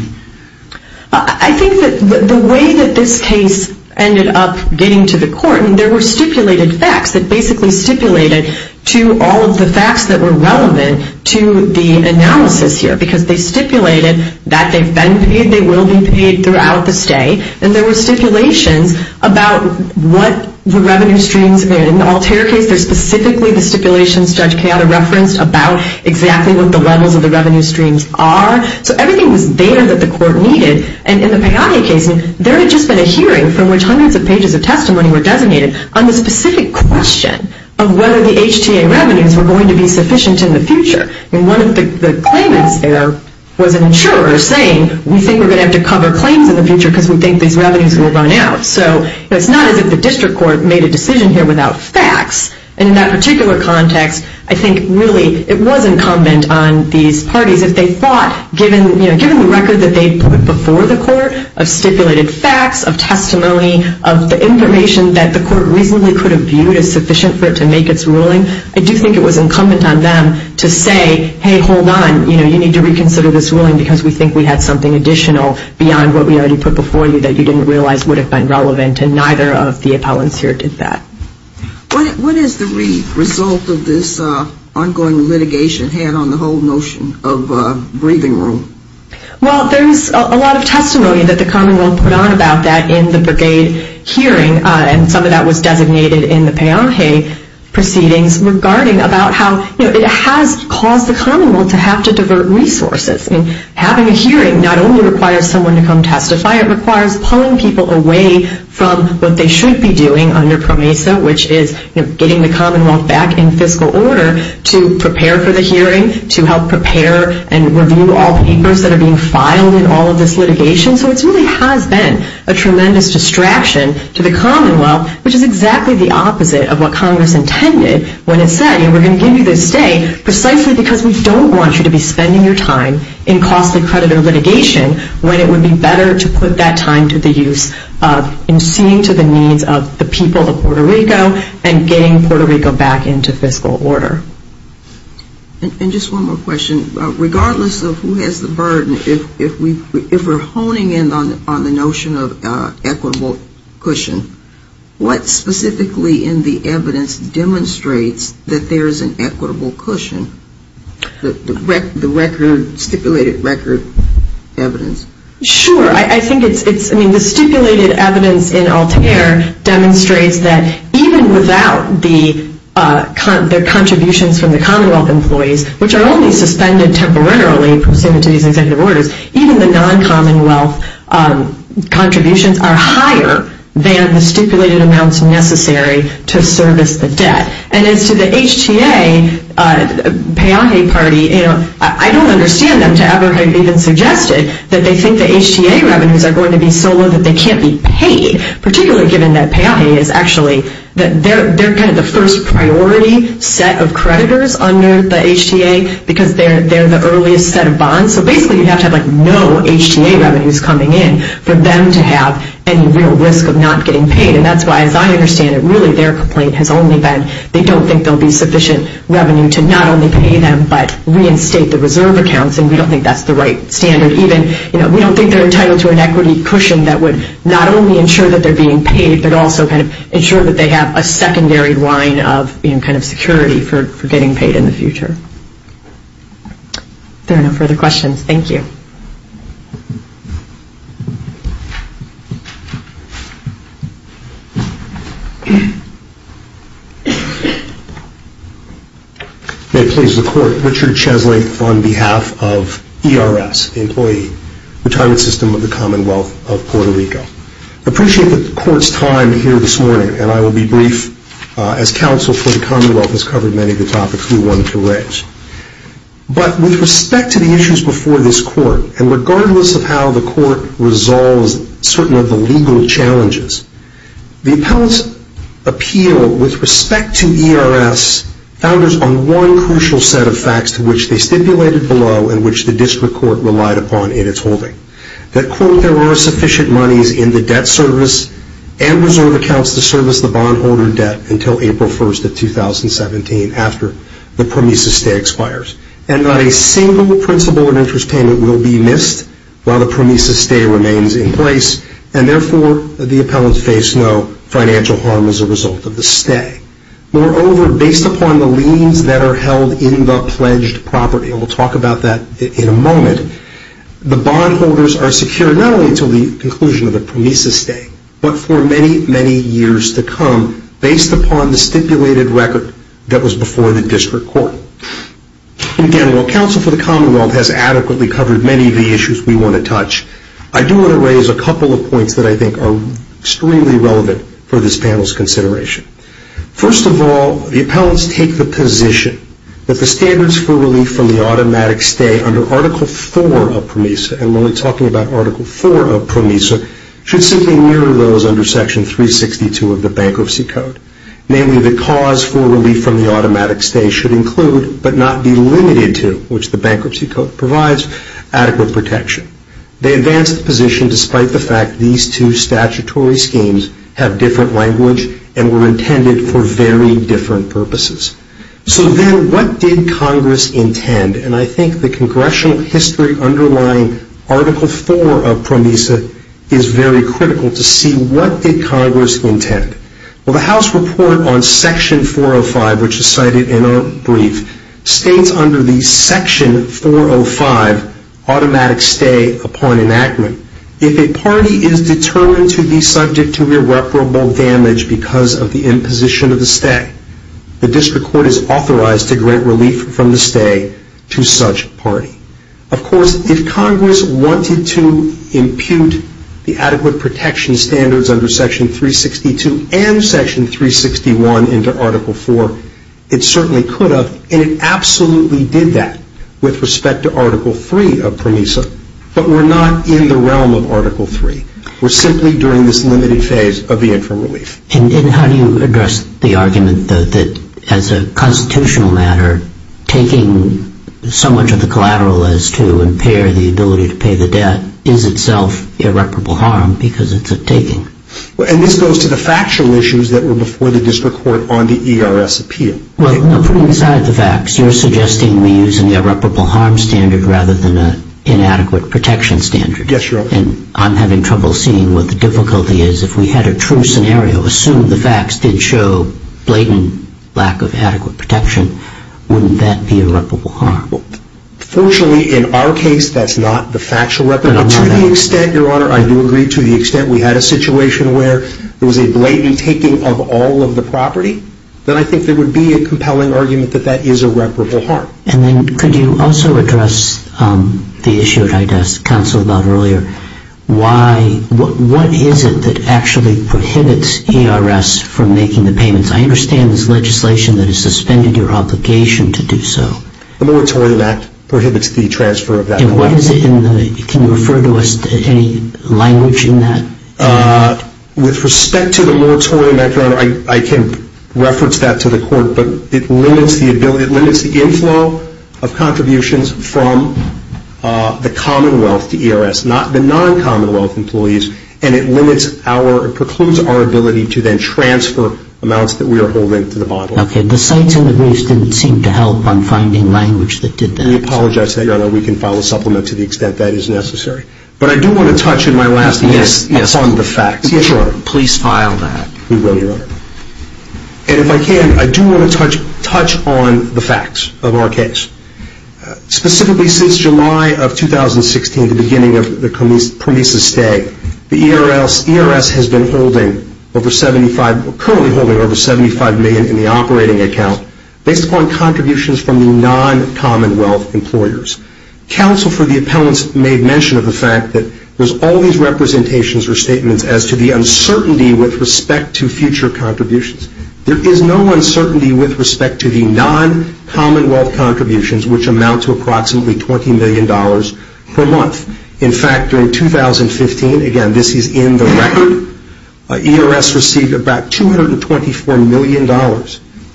I think that the way that this case ended up getting to the court, there were stipulated facts that basically stipulated to all of the facts that were relevant to the analysis here, because they stipulated that they will be paid throughout the stay, and there were stipulations about what the revenue streams were. In the Altair case, there's specifically the stipulations Judge Peata referenced about exactly what the levels of the revenue streams are. So everything was data that the court needed, and in the Pagani case, there had just been a hearing from which hundreds of pages of testimony were designated on the specific question of whether the HTA revenues were going to be sufficient in the future. The claimant there was an insurer saying, we think we're going to have to cover claims in the future because we think these revenues are going to run out. So it's not as if the district court made a decision here without facts. In that particular context, I think it really, it was incumbent on these parties that they thought given the record that they put before the court of stipulated facts, of testimony, of the information that the court reasonably could have viewed as sufficient for it to make its ruling, I do think it was incumbent on them to say, hey, hold on, you need to reconsider this ruling because we think we have something additional beyond what we already put before you that you didn't realize would have been relevant, and neither of the appellants here did that. What is the result of this ongoing litigation had on the whole notion of a briefing room? Well, there's a lot of testimony that the commonwealth put on about that in the Brigade hearing, and some of that was designated in the Payanhe proceedings regarding about how it has caused the commonwealth to have to divert resources. Having a hearing not only requires someone to come testify, it requires pulling people away from what they should be doing under PROMESA, which is getting the commonwealth back in fiscal order to prepare for the hearings, to help prepare and review all the papers that are being filed in all of this litigation. So it really has been a tremendous distraction to the commonwealth, which is exactly the opposite of what Congress intended when it said, we're going to give you this day precisely because we don't want you to be spending your time in costly creditor litigation when it would be better to put that time to the use of in suing to the needs of the people of Puerto Rico and getting Puerto Rico back into fiscal order. And just one more question. Regardless of who has the burden, if we're honing in on the notion of equitable cushion, what specifically in the evidence demonstrates that there is an equitable cushion? The stipulated record evidence. Sure. I think the stipulated evidence in Altair demonstrates that even without the contributions from the commonwealth employees, which are only suspended temporarily in the case of executive order, even the non-commonwealth contributions are higher than the stipulated amounts necessary to service the debt. And as to the HTA payoff party, you know, I don't understand them to ever have even suggested that they think the HTA revenues are going to be so low that they can't be paid, particularly given that payoffing is actually, they're kind of the first priority set of creditors under the HTA because they're the earliest set of bonds. So basically you have to have like no HTA revenues coming in for them to have any real risk of not getting paid. And that's why, as I understand it, really their complaint has only been, they don't think there will be sufficient revenue to not only pay them but reinstate the reserve accounts, and we don't think that's the right plan. And even, you know, we don't think they're entitled to an equity cushion that would not only ensure that they're being paid, but also kind of ensure that they have a secondary line of, you know, kind of security for getting paid in the future. There are no further questions. Thank you. May it please the Court, Richard Chesley on behalf of ERS, the employee retirement system of the Commonwealth of Puerto Rico. I appreciate the Court's time here this morning, and I will be brief. As counsel for the Commonwealth has covered many of the topics, we run two ways. But with respect to the issues before this Court, and regardless of how the Court resolves certain of the legal challenges, the appellants appeal with respect to ERS on one crucial set of facts to which they stipulated the law and which the district court relied upon in its holding. That quote, there were sufficient money in the debt service and reserve accounts to service the bondholder debt until April 1st of 2017 after the PROMESA stay expires. And not a single principal and interest payment will be missed while the PROMESA stay remains in place, and therefore the appellants face no financial harm as a result of the stay. Moreover, based upon the liens that are held in the pledged property, and we'll talk about that in a moment, the bondholders are secured not only until the conclusion of the PROMESA stay, but for many, many years to come based upon the stipulated record that was before the district court. Again, while counsel for the Commonwealth has adequately covered many of the issues we want to touch, I do want to raise a couple of points that I think are extremely relevant for this panel's consideration. First of all, the appellants take the position that the standards for relief from the automatic stay under Article IV of PROMESA, and when we're talking about Article IV of PROMESA, should simply mirror those under Section 362 of the Bankruptcy Code. Namely, the cause for relief from the automatic stay should include, but not be limited to, which the Bankruptcy Code provides, adequate protection. They advance the position despite the fact these two statutory schemes have different language and were intended for very different purposes. So then, what did Congress intend? And I think the congressional history underlying Article IV of PROMESA is very critical to see what did Congress intend. Well, the House report on Section 405, which is cited in our brief, states under the Section 405 automatic stay upon enactment, if a party is determined to be subject to irreparable damage because of the imposition of the stay, the district court is authorized to grant relief from the stay to such party. Of course, if Congress wanted to impute the adequate protection standards under Section 362 and Section 361 under Article IV, it certainly could have, and it absolutely did that with respect to Article III of PROMESA, but we're not in the realm of Article III. We're simply during this limited phase of the interim relief. And how do you address the argument that, as a constitutional matter, taking so much of the collateral is to impair the ability to pay the debt is itself irreparable harm because it's a taking? And this goes to the factual issues that were before the district court on the ERS appeal. Right, but put aside the facts. You're suggesting we use an irreparable harm standard rather than an inadequate protection standard. Yes, Your Honor. And I'm having trouble seeing what the difficulty is. If we had a true scenario, assume the facts didn't show blatant lack of adequate protection, wouldn't that be irreparable harm? Personally, in our case, that's not the factual weapon. To the extent, Your Honor, I do agree to the extent we had a situation where there was a blatant taking of all of the property, then I think there would be a compelling argument that that is irreparable harm. And then could you also address the issue that I asked counsel about earlier? What is it that actually prohibits ERS from making the payments? I understand there's legislation that has suspended your obligation to do so. The Militarian Act prohibits fee transfer. Can you refer to any language in that? With respect to the Militarian Act, Your Honor, I can reference that to the court, but it limits the ability, it limits the gains now of contributions from the Commonwealth to ERS, not the non-Commonwealth employees, and it limits our, it precludes our ability to then transfer amounts that we are holding to the bondholders. Okay, the signs and the words didn't seem to help on finding language that did that. We apologize, Your Honor. We can file a supplement to the extent that is necessary. But I do want to touch on my last point on the facts. Yes, Your Honor. Please file that. We will, Your Honor. And if I can, I do want to touch on the facts of our case. Specifically, since July of 2016, the beginning of the previous estate, the ERS has been holding over 75, currently holding over 75 million in the operating account based upon contributions from the non-Commonwealth employers. Counsel for the appellant made mention of the fact that there's always representations or statements as to the uncertainty with respect to future contributions. There is no uncertainty with respect to the non-Commonwealth contributions, which amounts to approximately $20 million per month. In fact, in 2015, again, this is in the record, ERS received about $224 million.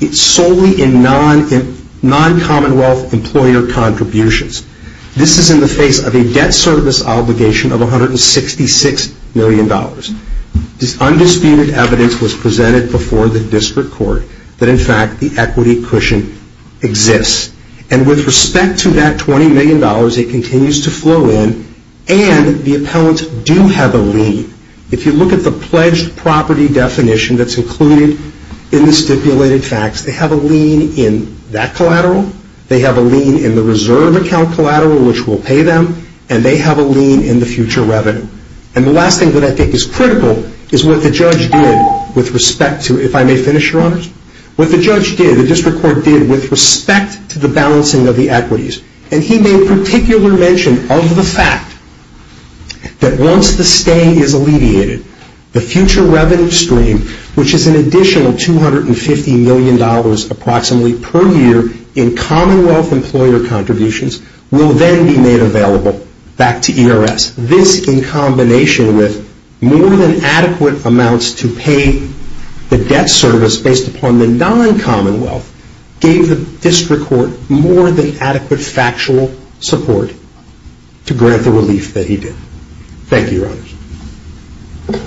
It's solely in non-Commonwealth employer contributions. This is in the face of a debt service obligation of $166 million. The undisputed evidence was presented before the district court that, in fact, the equity cushion exists. And with respect to that $20 million, it continues to flow in, and the appellants do have a lien. If you look at the pledged property definition that's included in the stipulated facts, they have a lien in that collateral. They have a lien in the reserve account collateral, which will pay them. And they have a lien in the future revenue. And the last thing that I think is critical is what the judge did with respect to, if I may finish, Your Honors. What the judge did, the district court did, with respect to the balancing of the equities, and he made particular mention of the fact that once the stay is alleviated, the future revenue stream, which is an additional $250 million approximately per year in Commonwealth employer contributions, will then be made available back to ERS. This, in combination with more than adequate amounts to pay the debt service based upon the non-Commonwealth, gave the district court more than adequate factual support to grant the relief that he did. Thank you, Your Honors. Thank you.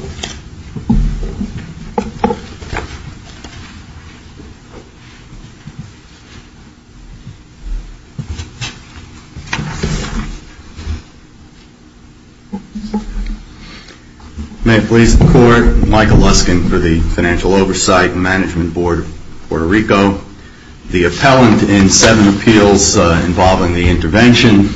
May I please record Michael Luskin for the Financial Oversight and Management Board, Puerto Rico. The appellant in seven appeals involving the intervention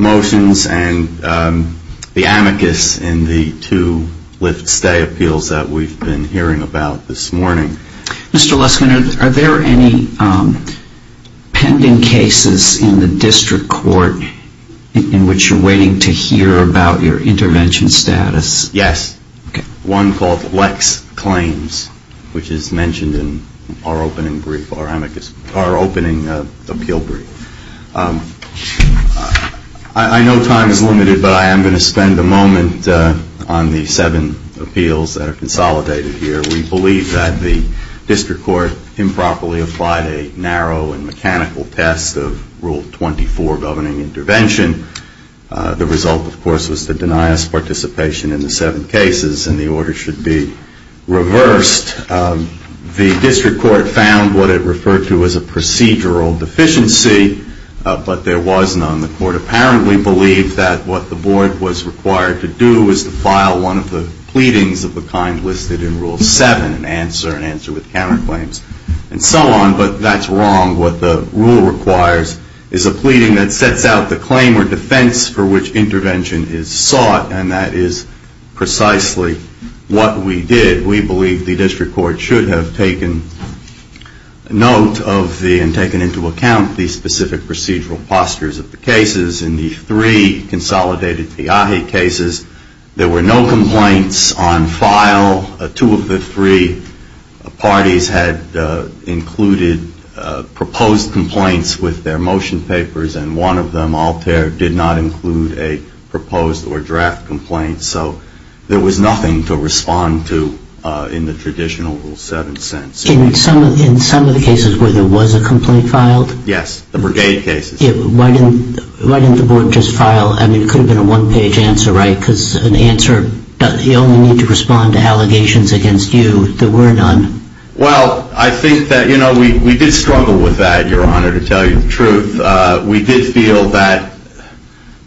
motions and the amicus in the two lift-stay appeals that we've been hearing about this morning. Mr. Luskin, are there any pending cases in the district court in which you're waiting to hear about your intervention status? Yes, one called Lex Claims, which is mentioned in our opening appeal brief. I know time is limited, but I am going to spend a moment on the seven appeals that are consolidated here. We believe that the district court improperly applied a narrow and mechanical test of Rule 24 governing intervention. The result, of course, was the deniers' participation in the seven cases, and the order should be reversed. The district court found what it referred to as a procedural deficiency, but there was none. The court apparently believes that what the board was required to do is to file one of the pleadings of the kind listed in Rule 7, an answer with counterclaims and so on, but that's wrong. What the rule requires is a pleading that sets out the claim or defense for which intervention is sought, and that is precisely what we did. We believe the district court should have taken note of and taken into account the specific procedural postures of the cases in these three consolidated FIAHE cases. There were no complaints on file. Two of the three parties had included proposed complaints with their motion papers, and one of them, Altair, did not include a proposed or draft complaint, so there was nothing to respond to in the traditional Rule 7 sense. In some of the cases where there was a complaint filed? Yes, the brigade cases. Why didn't the board just file an included one-page answer, right? Because an answer does not mean to respond to allegations against you that were done. Well, I think that, you know, we did struggle with that, Your Honor, to tell you the truth. We did feel that,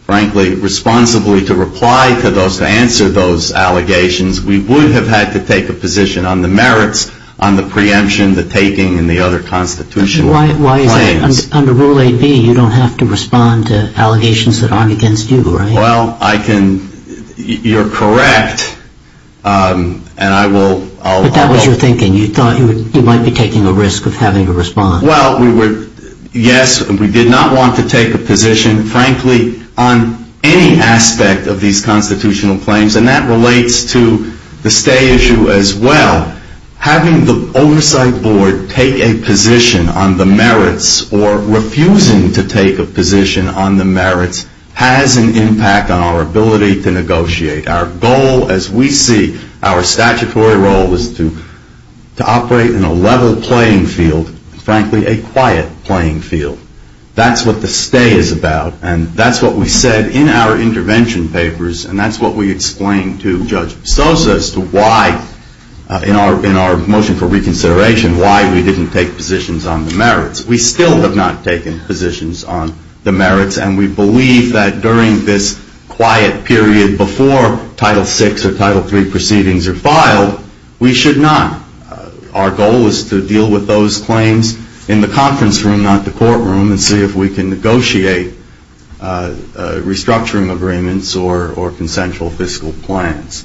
frankly, responsibly to reply to those, to answer those allegations, we would have had to take a position on the merits, on the preemption, the taking, and the other constitutional claims. Why, under Rule 8b, you don't have to respond to allegations that aren't against you, right? Well, I can, you're correct, and I will, I'll But that was your thinking, you thought you might be taking the risk of having to respond. Well, we were, yes, we did not want to take a position, frankly, on any aspect of these constitutional claims, and that relates to the stay issue as well. Having the oversight board take a position on the merits, or refusing to take a position on the merits, has an impact on our ability to negotiate. Our goal, as we see, our statutory role is to operate in a level playing field, frankly, a quiet playing field. That's what the stay is about, and that's what we said in our intervention papers, and that's what we explained to Judge Pistosa as to why, in our motion for reconsideration, why we didn't take positions on the merits. We still have not taken positions on the merits, and we believe that during this quiet period, before Title 6 or Title 3 proceedings are filed, we should not. Our goal is to deal with those claims in the conference room, not the courtroom, and see if we can negotiate restructuring agreements or consensual fiscal plans.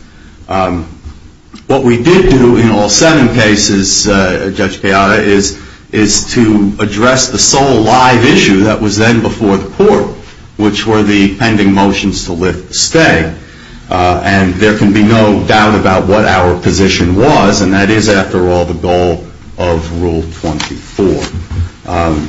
What we did do in all seven cases, Judge Piata, is to address the sole live issue that was then before the court, which were the pending motions to lift stay, and there can be no doubt about what our position was, and that is, after all, the goal of Rule 24.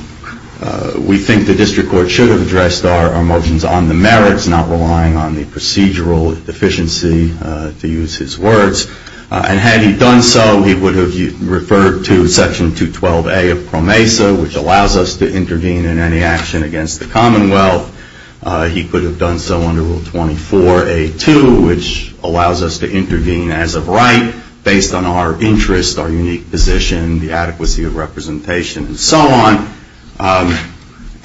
We think the district court should have addressed our motions on the merits, not relying on the procedural deficiency, to use his words. Had he done so, he would have referred to Section 212A of PROMESA, which allows us to intervene in any action against the Commonwealth. He could have done so under Rule 24A2, which allows us to intervene as of right, based on our interests, our unique position, the adequacy of representation, and so on,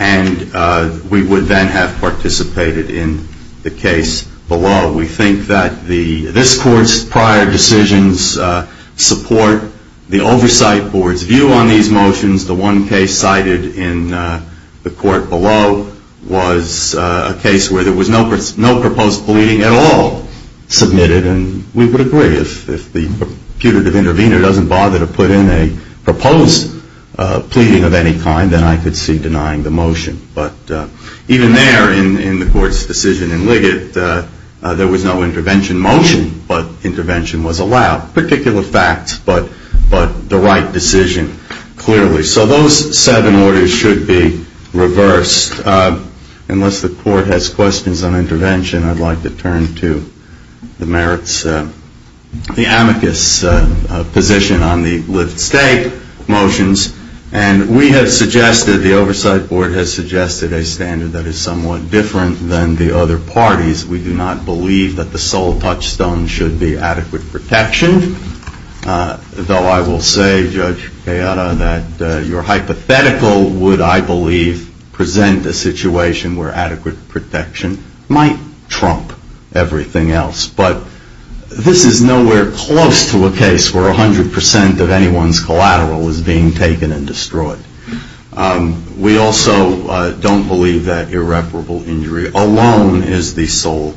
and we would then have participated in the case below. We think that this court's prior decisions support the oversight court's view on these motions. The one case cited in the court below was a case where there was no proposed pleading at all submitted, and we would agree. If the putative intervener doesn't bother to put in a proposed pleading of any kind, then I could see denying the motion. But even there, in the court's decision in Liggett, there was no intervention motion, but intervention was allowed. Particular facts, but the right decision, clearly. So those seven orders should be reversed. Unless the court has questions on intervention, I'd like to turn to the merits. The amicus position on the Liggett state motions, and we have suggested, the oversight court has suggested, a standard that is somewhat different than the other parties. We do not believe that the sole touchstone should be adequate protection, though I will say, Judge Beata, that your hypothetical would, I believe, present a situation where adequate protection might trump everything else. But this is nowhere close to a case where 100% of anyone's collateral is being taken and destroyed. We also don't believe that irreparable injury alone is the sole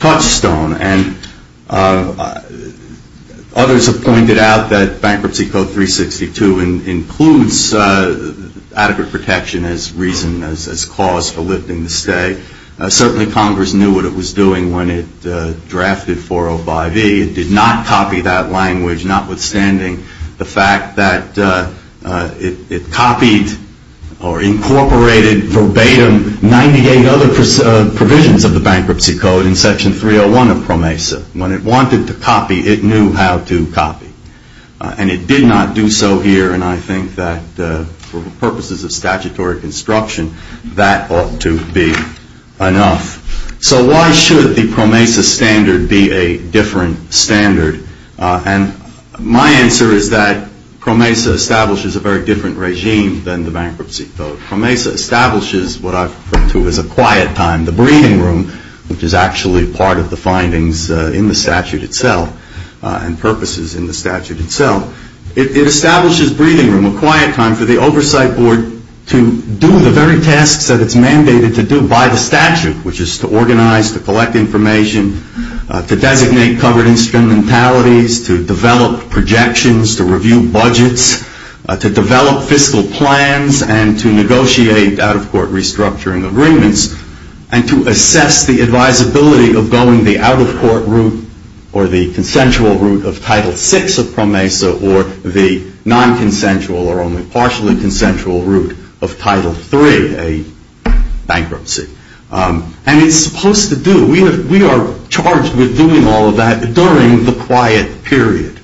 touchstone, and others have pointed out that bankruptcy code 362 includes adequate protection as reason, as cause for lifting the stay. Certainly Congress knew what it was doing when it drafted 405E. It did not copy that language, notwithstanding the fact that it copied or incorporated verbatim 98 other provisions of the bankruptcy code in Section 301 of PROMESA. When it wanted to copy, it knew how to copy, and it did not do so here, and I think that for the purposes of statutory construction, that ought to be enough. So why should the PROMESA standard be a different standard? And my answer is that PROMESA establishes a very different regime than the bankruptcy code. PROMESA establishes what I've referred to as a quiet time, the breathing room, which is actually part of the findings in the statute itself and purposes in the statute itself. It establishes breathing room, a quiet time for the oversight board to do the very tasks that it's mandated to do by the statute, which is to organize, to collect information, to designate covered instrumentalities, to develop projections, to review budgets, to develop fiscal plans, and to negotiate out-of-court restructuring agreements, and to assess the advisability of going the out-of-court route or the consensual route of Title VI of PROMESA or the non-consensual or only partial and consensual route of Title III, a bankruptcy. And it's supposed to do it. We are charged with doing all of that during the quiet period.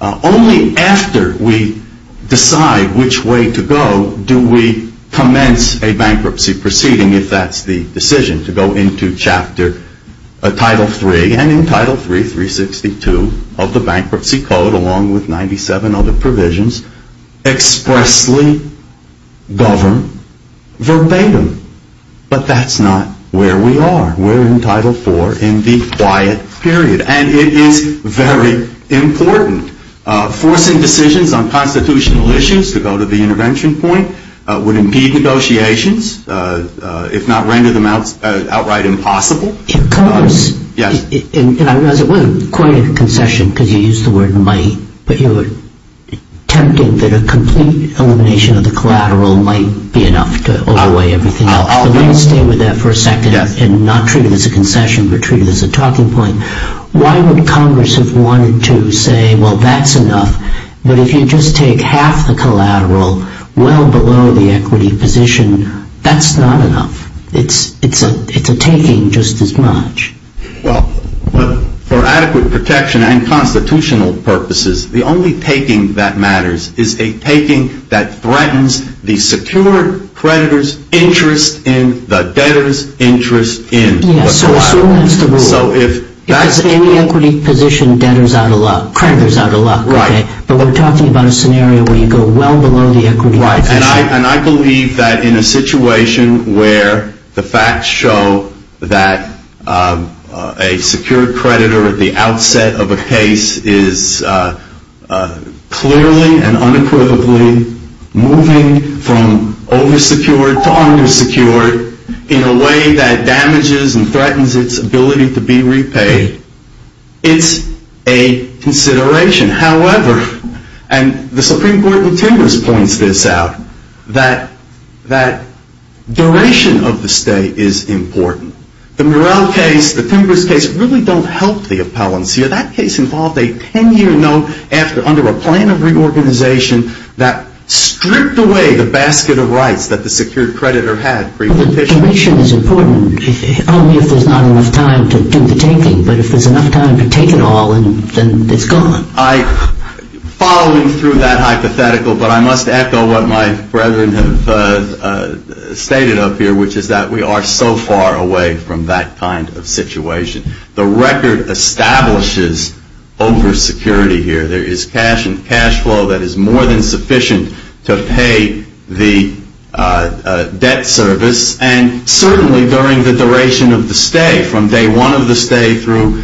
Only after we decide which way to go do we commence a bankruptcy proceeding, if that's the decision, to go into Title III, and in Title III, 362 of the Bankruptcy Code, along with 97 other provisions, expressly govern verbatim. But that's not where we are. We're in Title IV in the quiet period, and it is very important. Forcing decisions on constitutional issues to go to the intervention point would impede negotiations, if not render them outright impossible. In PROMESA, and I'm going to say, wait a minute, quite a concession, because you used the word might, but you were attempting that a complete elimination of the collateral might be enough to outweigh everything. I'm going to stay with that for a second and not treat it as a concession, but treat it as a talking point. Why would Congress have wanted to say, well, that's enough, but if you just take half the collateral, well below the equity position, that's not enough. It's a taking just as much. Well, for adequate protection and constitutional purposes, the only taking that matters is a taking that threatens the secured creditor's interest in the debtor's interest in. Yes, so that's the rule. In the equity position, creditors have a lot, but we're talking about a scenario where you go well below the equity position. And I believe that in a situation where the facts show that a secured creditor at the outset of a case is clearly and unequivocally moving from over-secured to under-secured in a way that damages and threatens its ability to be repaid, it's a consideration. However, and the Supreme Court in Timbers points this out, that duration of the stay is important. The Morrell case, the Timbers case, really don't help the appellants here. That case involved a 10-year note after under a plan of reorganization that stripped away the basket of rights that the secured creditor had previously. The duration is important. She says, oh, there's not enough time to detain me. But if there's enough time to detain you all, then it's gone. Following through that hypothetical, but I must add to what my brethren have stated up here, which is that we are so far away from that kind of situation. The record establishes over-security here. There is cash and cash flow that is more than sufficient to pay the debt service, and certainly during the duration of the stay, from day one of the stay through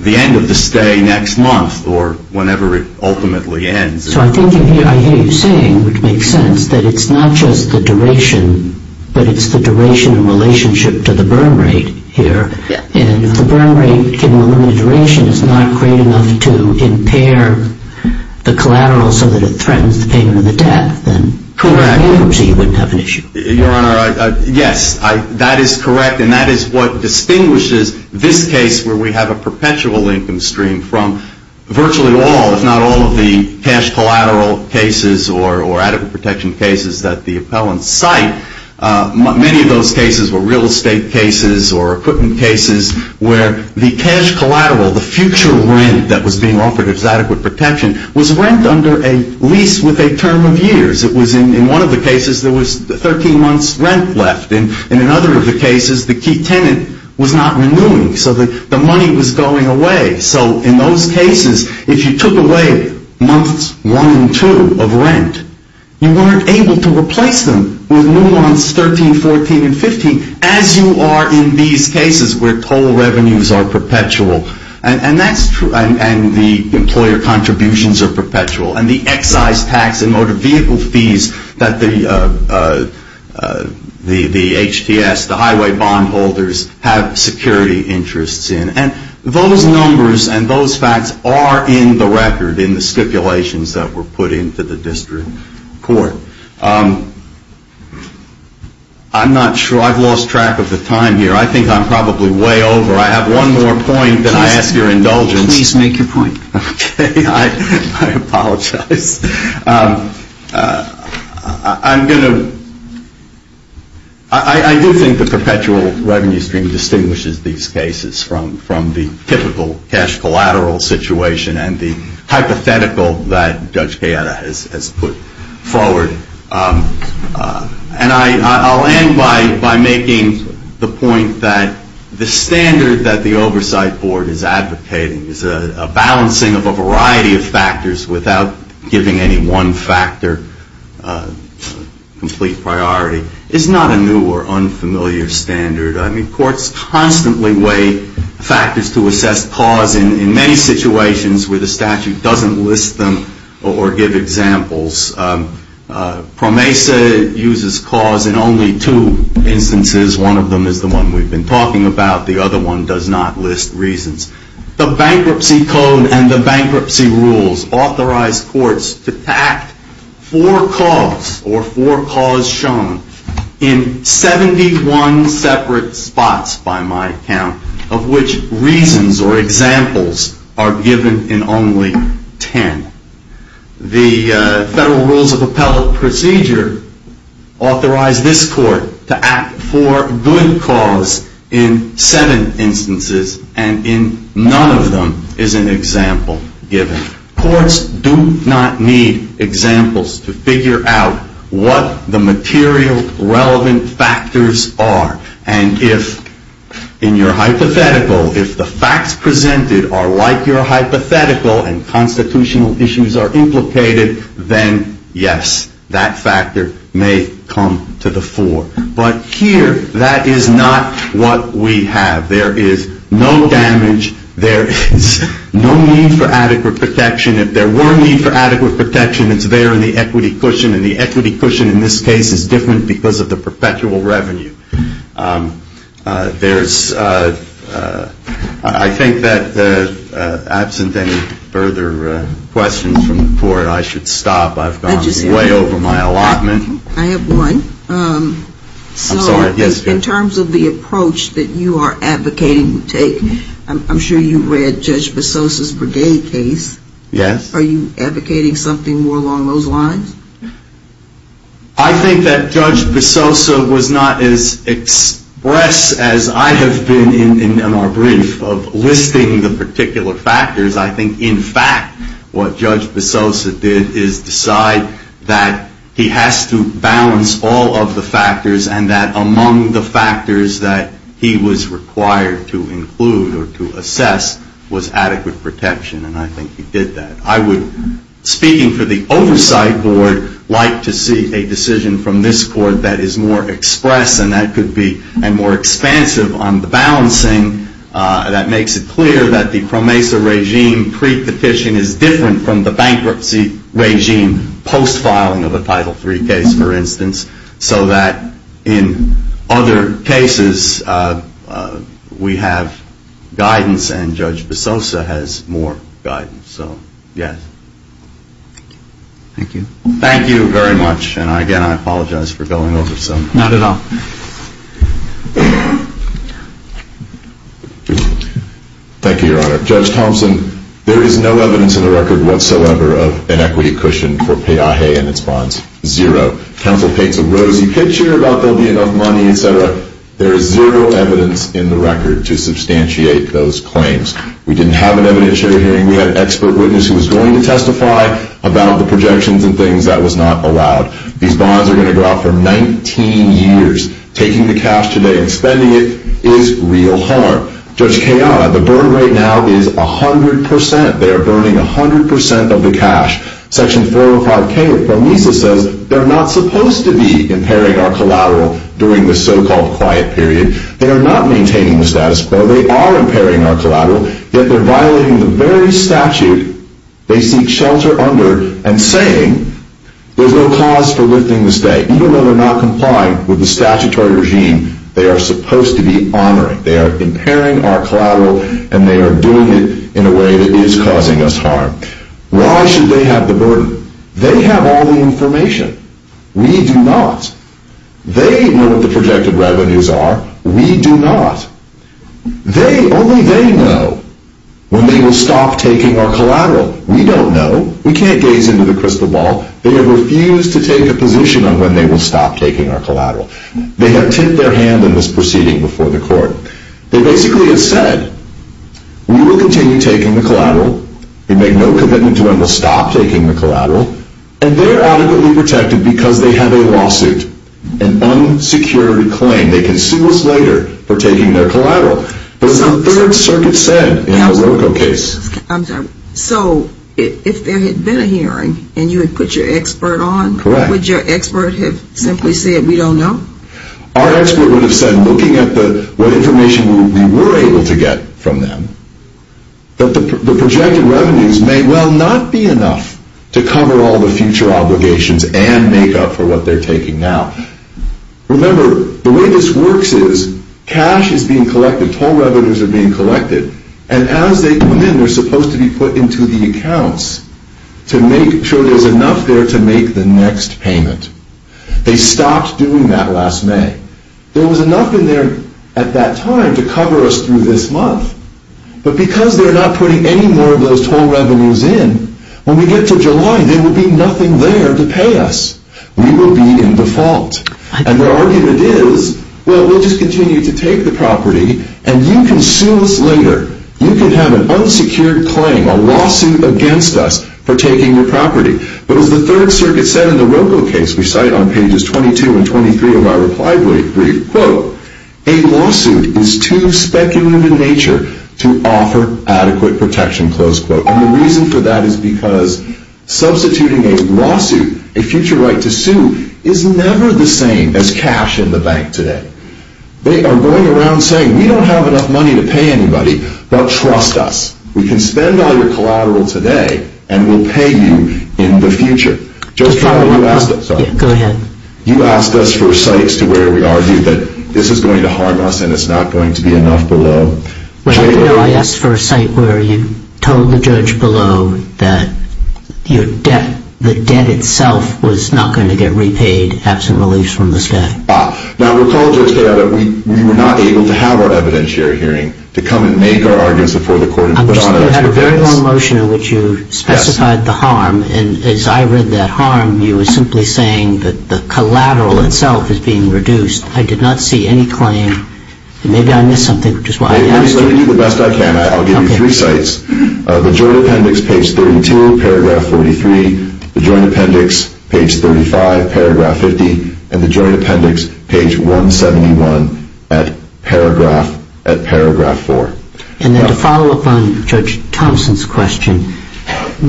the end of the stay next month or whenever it ultimately ends. So I think what you're saying makes sense, that it's not just the duration, but it's the duration in relationship to the burn rate here, and if the burn rate can eliminate the duration, it's not creating enough to impair the collateral so that it threatens the payment of the debt. And poor ideology would have an issue. Your Honor, yes, that is correct, and that is what distinguishes this case where we have a perpetual income stream from virtually all. It's not only cash collateral cases or adequate protection cases that the appellants cite. Many of those cases were real estate cases or equipment cases where the cash collateral, the future rent that was being offered as adequate protection, was rent under a lease with a term of years. It was in one of the cases there was 13 months' rent left, and in other of the cases the key tenant was not renewing so that the money was going away. So in those cases, if you took away months one and two of rent, you weren't able to replace them with months 13, 14, and 15, as you are in these cases where total revenues are perpetual, and the employer contributions are perpetual, and the excise tax and motor vehicle fees that the HTS, the highway bondholders, have security interests in, and those numbers and those facts are in the record in the stipulations that were put into the district court. I'm not sure. I've lost track of the time here. I think I'm probably way over. I have one more point that I ask your indulgence. Please make your point. Okay. I apologize. I'm going to... I do think the perpetual revenue stream distinguishes these cases from the typical cash collateral situation and the hypothetical that Judge Gaeta has put forward. And I'll end by making the point that the standard that the Oversight Board is advocating is a balancing of a variety of factors without giving any one factor complete priority. It's not a new or unfamiliar standard. I mean, courts constantly weigh factors to assess cause in many situations where the statute doesn't list them or give examples. PROMESA uses cause in only two instances. One of them is the one we've been talking about. The other one does not list reasons. The Bankruptcy Code and the Bankruptcy Rules authorize courts to act for cause or for cause shown in 71 separate spots by my count, of which reasons or examples are given in only 10. The Federal Rules of Appellate Procedure authorize this court to act for good cause in seven instances and in none of them is an example given. Courts do not need examples to figure out what the material relevant factors are. And if in your hypothetical, if the facts presented are like your hypothetical and constitutional issues are implicated, then yes, that factor may come to the fore. But here, that is not what we have. There is no damage. There is no need for adequate protection. If there were a need for adequate protection, it's there in the equity cushion, and the equity cushion in this case is different because of the perpetual revenue. I think that absent any further questions from the court, I should stop. I've gone way over my allotment. I have one. In terms of the approach that you are advocating to take, I'm sure you've read Judge Basosa's Breguet case. Yes. Are you advocating something more along those lines? I think that Judge Basosa was not as expressed as I have been in my brief of listing the particular factors. I think, in fact, what Judge Basosa did is decide that he has to balance all of the factors and that among the factors that he was required to include or to assess was adequate protection, and I think he did that. I would, speaking for the oversight board, like to see a decision from this court that is more expressed and that could be more expansive on the balancing that makes it clear that the CROMESA regime pre-deficient is different from the bankruptcy regime post-filing of the Title III case, for instance, so that in other cases we have guidance and Judge Basosa has more guidance. So, yes. Thank you. Thank you very much, and again, I apologize for going over so much. Not at all. Thank you, Your Honor. Judge Thompson, there is no evidence in the record whatsoever of an equity cushion for pay-a-hay in these bonds. Zero. Counsel paid to Rose. You can't share about there being no money, et cetera. There is zero evidence in the record to substantiate those claims. We didn't have an evidence-sharing hearing. We had an expert witness who was going to testify about the projections and things. That was not allowed. These bonds are going to go out for 19 years. Taking the cash today and spending it is real harm. Judge Kayaba, the burden right now is 100%. They are burning 100% of the cash. Section 405K, if I may say so, they're not supposed to be impairing on collateral during the so-called quiet period. They are not maintaining the status quo. They are impairing on collateral, yet they're violating the very statute they seek shelter under and saying there's no cause for living this day. Even though they're not complying with the statutory regime, they are supposed to be honoring. They are impairing our collateral, and they are doing it in a way that is causing us harm. Why should they have the burden? They have all the information. We do not. They know what the projected revenues are. We do not. Only they know when we will stop taking our collateral. We don't know. We can't gaze into the crystal ball. They have refused to take a position on when they will stop taking our collateral. They have tipped their hand in this proceeding before the court. They basically have said, we will continue taking the collateral. We make no commitment to when we'll stop taking the collateral. And they're adequately protected because they have a lawsuit, an unsecured claim. They can sue us later for taking their collateral. But it's unfair what the circuit said in the Alorica case. So, if there had been a hearing and you had put your expert on, would your expert have simply said, we don't know? Our expert would have said, looking at what information we were able to get from them, that the projected revenues may well not be enough to cover all the future obligations and make up for what they're taking now. Remember, the way this works is cash is being collected, whole revenues are being collected, and as they come in, they're supposed to be put into the accounts to make sure there's enough there to make the next payment. They stopped doing that last May. There was enough in there at that time to cover us through this month. But because they're not putting any more of those whole revenues in, when we get to July, there will be nothing there to pay us. We will be in default. And the argument is, well, we'll just continue to take the property, and you can sue us later. You can have an unsecured claim, a lawsuit against us for taking your property. But as the third circuit said in the Robo case, which I cite on pages 22 and 23 of my reply brief, quote, a lawsuit is too speculative in nature to offer adequate protection, close quote. And the reason for that is because substituting a lawsuit, a future right to sue, is never the same as cash in the bank today. They are going around saying, we don't have enough money to pay anybody, but trust us. We can spend all your collateral today, and we'll pay you in the future. Just not what you asked us. You asked us for a site to where we are. This is going to harm us, and it's not going to be enough below. I asked for a site where you told the judge below that your debt, the debt itself, was not going to get repaid as a release from the state. Wow. Now, the problem is that we were not able to have our evidentiary hearing to come and make the arguments before the court. You had a very long motion in which you specified the harm, and as I read that harm, you were simply saying that the collateral itself is being reduced. I did not see any claim. Maybe I missed something. Let me do the best I can. I'll give you three sites. The Joint Appendix, page 32, paragraph 43. The Joint Appendix, page 35, paragraph 50. And the Joint Appendix, page 171, at paragraph 4. And to follow up on Judge Thompson's question, did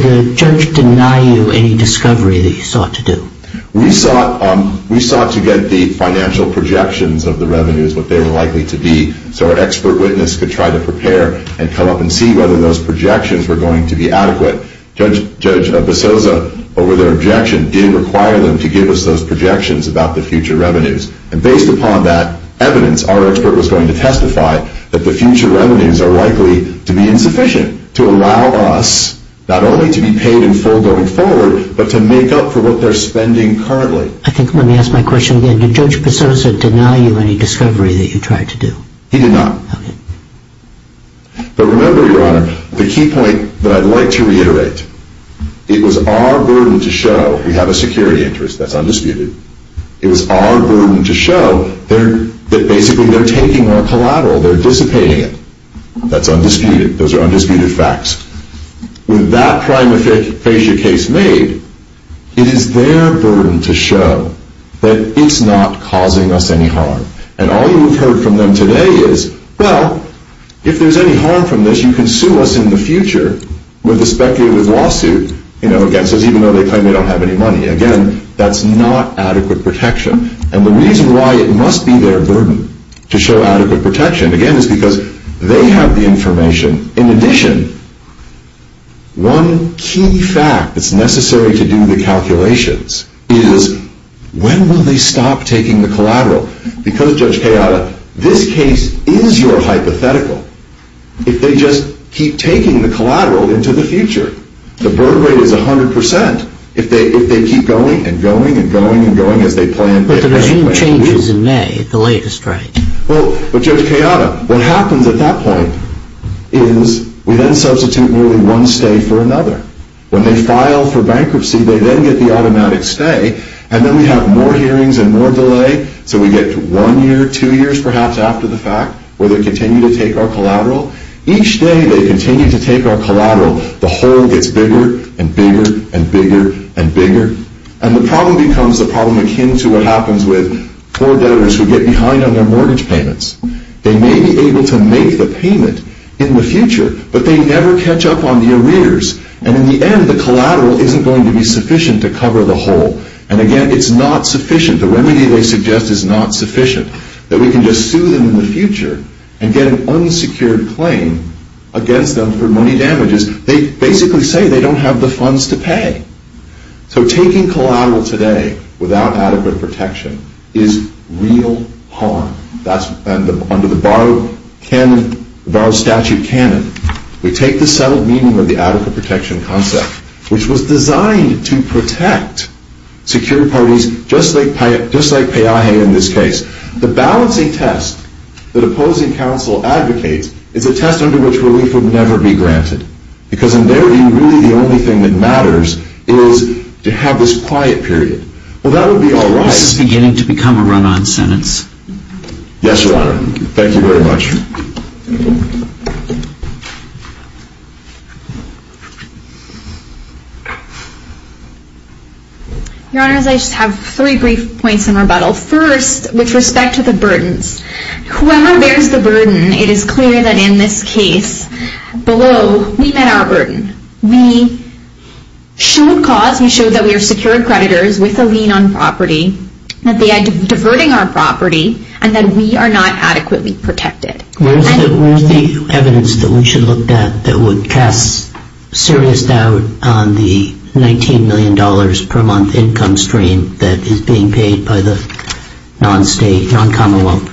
the judge deny you any discovery that you sought to do? We sought to get the financial projections of the revenues, what they were likely to be, so our expert witness could try to prepare and come up and see whether those projections were going to be adequate. Judge DeSouza, over the objection, did require them to give us those projections about the future revenues. And based upon that evidence, our expert was going to testify that the future revenues are likely to be insufficient to allow us, not only to be paid in full going forward, but to make up for what they're spending currently. I think I'm going to ask my question again. Did Judge DeSouza deny you any discovery that you tried to do? He did not. But remember, Your Honor, the key point that I'd like to reiterate, it was our burden to show we have a security interest. That's undisputed. It was our burden to show that basically they're taking our collateral, they're dissipating it. That's undisputed. Those are undisputed facts. With that crime aphasia case made, it is their burden to show that it's not causing us any harm. And all you've heard from them today is, well, if there's any harm from this, you can sue us in the future with a speculative lawsuit, you know, against us, even though they claim they don't have any money. Again, that's not adequate protection. And the reason why it must be their burden to show adequate protection, again, is because they have the information. In addition, one key fact that's necessary to do the calculations is, when will they stop taking the collateral? Because, Judge Carallo, this case is your hypothetical. If they just keep taking the collateral into the future, the burden rate is 100%. If they keep going and going and going and going, if they plan to... But the regime changes in May at the latest rate. But, Judge Carallo, what happens at that point is, we then substitute nearly one stay for another. When they file for bankruptcy, they then get the automatic stay, and then we have more hearings and more delay, so we get to one year, two years, perhaps, after the fact, where they continue to take our collateral. Each day they continue to take our collateral, the hole gets bigger and bigger and bigger and bigger, and the problem becomes the problem akin to what happens with poor debtors who get behind on their mortgage payments. They may be able to make a payment in the future, but they never catch up on the arrears. And in the end, the collateral isn't going to be sufficient to cover the hole. And again, it's not sufficient. The remedy they suggest is not sufficient. That we can just sue them in the future, and get an unsecured claim against them for money damages. They basically say they don't have the funds to pay. So taking collateral today, without adequate protection, is real harm. Under the Barra statute canon, we take the settled meaning of the adequate protection concept, which was designed to protect secured parties, just like Piaget in this case. The balancing test that opposing counsel advocates is a test under which relief would never be granted. Because in their view, really the only thing that matters is to have this quiet period. Well, that would be all right. This is beginning to become a run-on sentence. Yes, Your Honor. Thank you very much. Your Honor, I just have three brief points in rebuttal. First, with respect to the burden. When we're there with the burden, it is clear that in this case, below, we met our burden. We showed cause, we showed that we are secured creditors with a lien on property, that they are diverting our property, and that we are not adequately protected. Where is the evidence that we should look at that would cast serious doubt on the $19 million per month income stream that is being paid by the non-state non-commonwealth?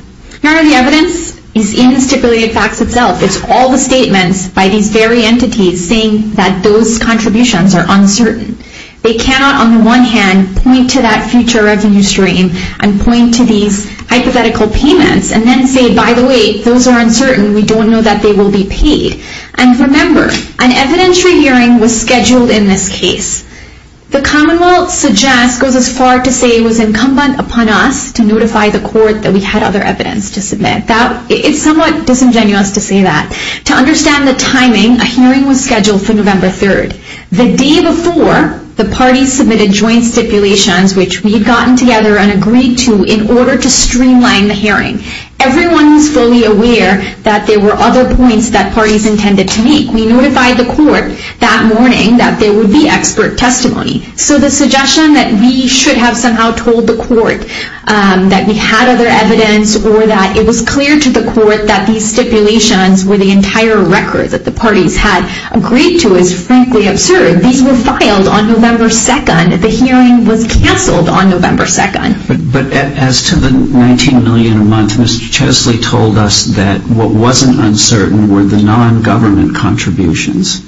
Your Honor, the evidence is in the stipulated facts itself. It's all the statements by the very entities saying that those contributions are uncertain. They cannot, on the one hand, point to that future revenue stream and point to the hypothetical payments and then say, by the way, those are uncertain, we don't know that they will be paid. And remember, an evidentiary hearing was scheduled in this case. The commonwealth suggests, goes as far to say it was incumbent upon us to notify the court that we had other evidence to submit. That is somewhat disingenuous to say that. To understand the timing, a hearing was scheduled for November 3rd. The day before, the parties submitted joint stipulations, which we've gotten together and agreed to, in order to streamline the hearing. Everyone was fully aware that there were other points that parties intended to make. We notified the court that morning that there would be expert testimony. So the suggestion that we should have somehow told the court that we had other evidence or that it was clear to the court that these stipulations were the entire record that the parties had agreed to is frankly absurd. These were filed on November 2nd. The hearing was canceled on November 2nd. But as to the $19 billion a month, Mr. Chesley told us that what wasn't uncertain were the non-government contributions.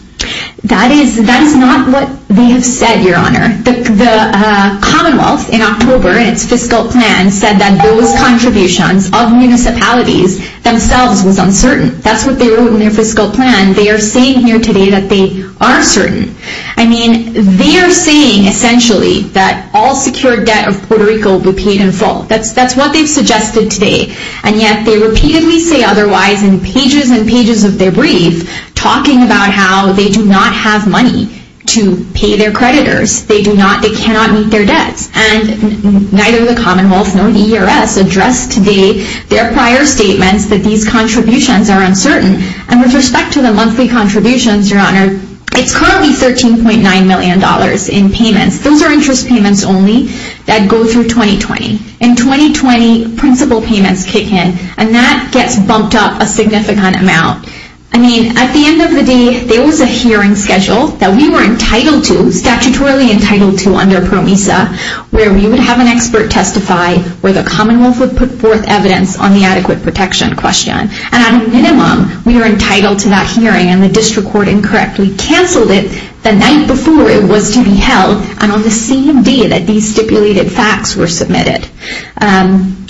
That is not what they said, your honor. The commonwealth, in October, in its fiscal plan, said that those contributions of municipalities themselves were uncertain. That's what they wrote in their fiscal plan. They are saying here today that they are certain. I mean, they are saying essentially that all secured debt of Puerto Rico would be paid in full. That's what they suggested today. And yet they repeatedly say otherwise in pages and pages of their brief, talking about how they do not have money to pay their creditors. They cannot meet their debt. And neither the commonwealth nor ERS addressed today their prior statements that these contributions are uncertain. And with respect to the monthly contributions, your honor, it's currently $13.9 million in payments, silver interest payments only, that go through 2020. In 2020, principal payments kick in. And that gets bumped up a significant amount. I mean, at the end of the day, there was a hearing schedule that we were entitled to, statutorily entitled to under PROMISA, where we would have an expert testify where the commonwealth would put forth evidence on the adequate protection question. At a minimum, we were entitled to that hearing, and the district court incorrectly canceled it the night before it was to be held, and on the same day that these stipulated facts were submitted.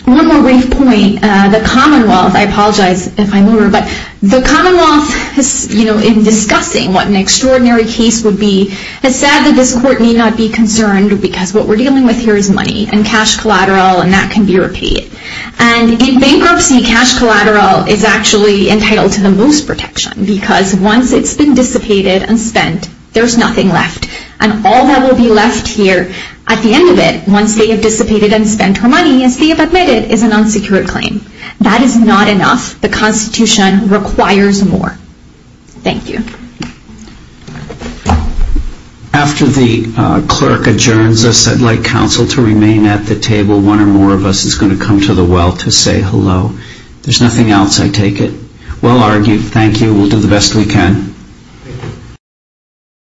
One more brief point. The commonwealth, I apologize if I'm rude, but the commonwealth, you know, in discussing what an extraordinary case would be, has said that this court need not be concerned because what we're dealing with here is money and cash collateral, and that can be repeated. And in bankruptcy, cash collateral is actually entitled to the most protection because once it's been dissipated and spent, there's nothing left. And all that will be left here at the end of it, once they've dissipated and spent her money and she has admitted, is an unsecured claim. That is not enough. The Constitution requires more. Thank you. After the clerk adjourns us, I'd like counsel to remain at the table. One or more of us is going to come to the well to say hello. If there's nothing else, I take it. Well argued. Thank you. We'll do the best we can.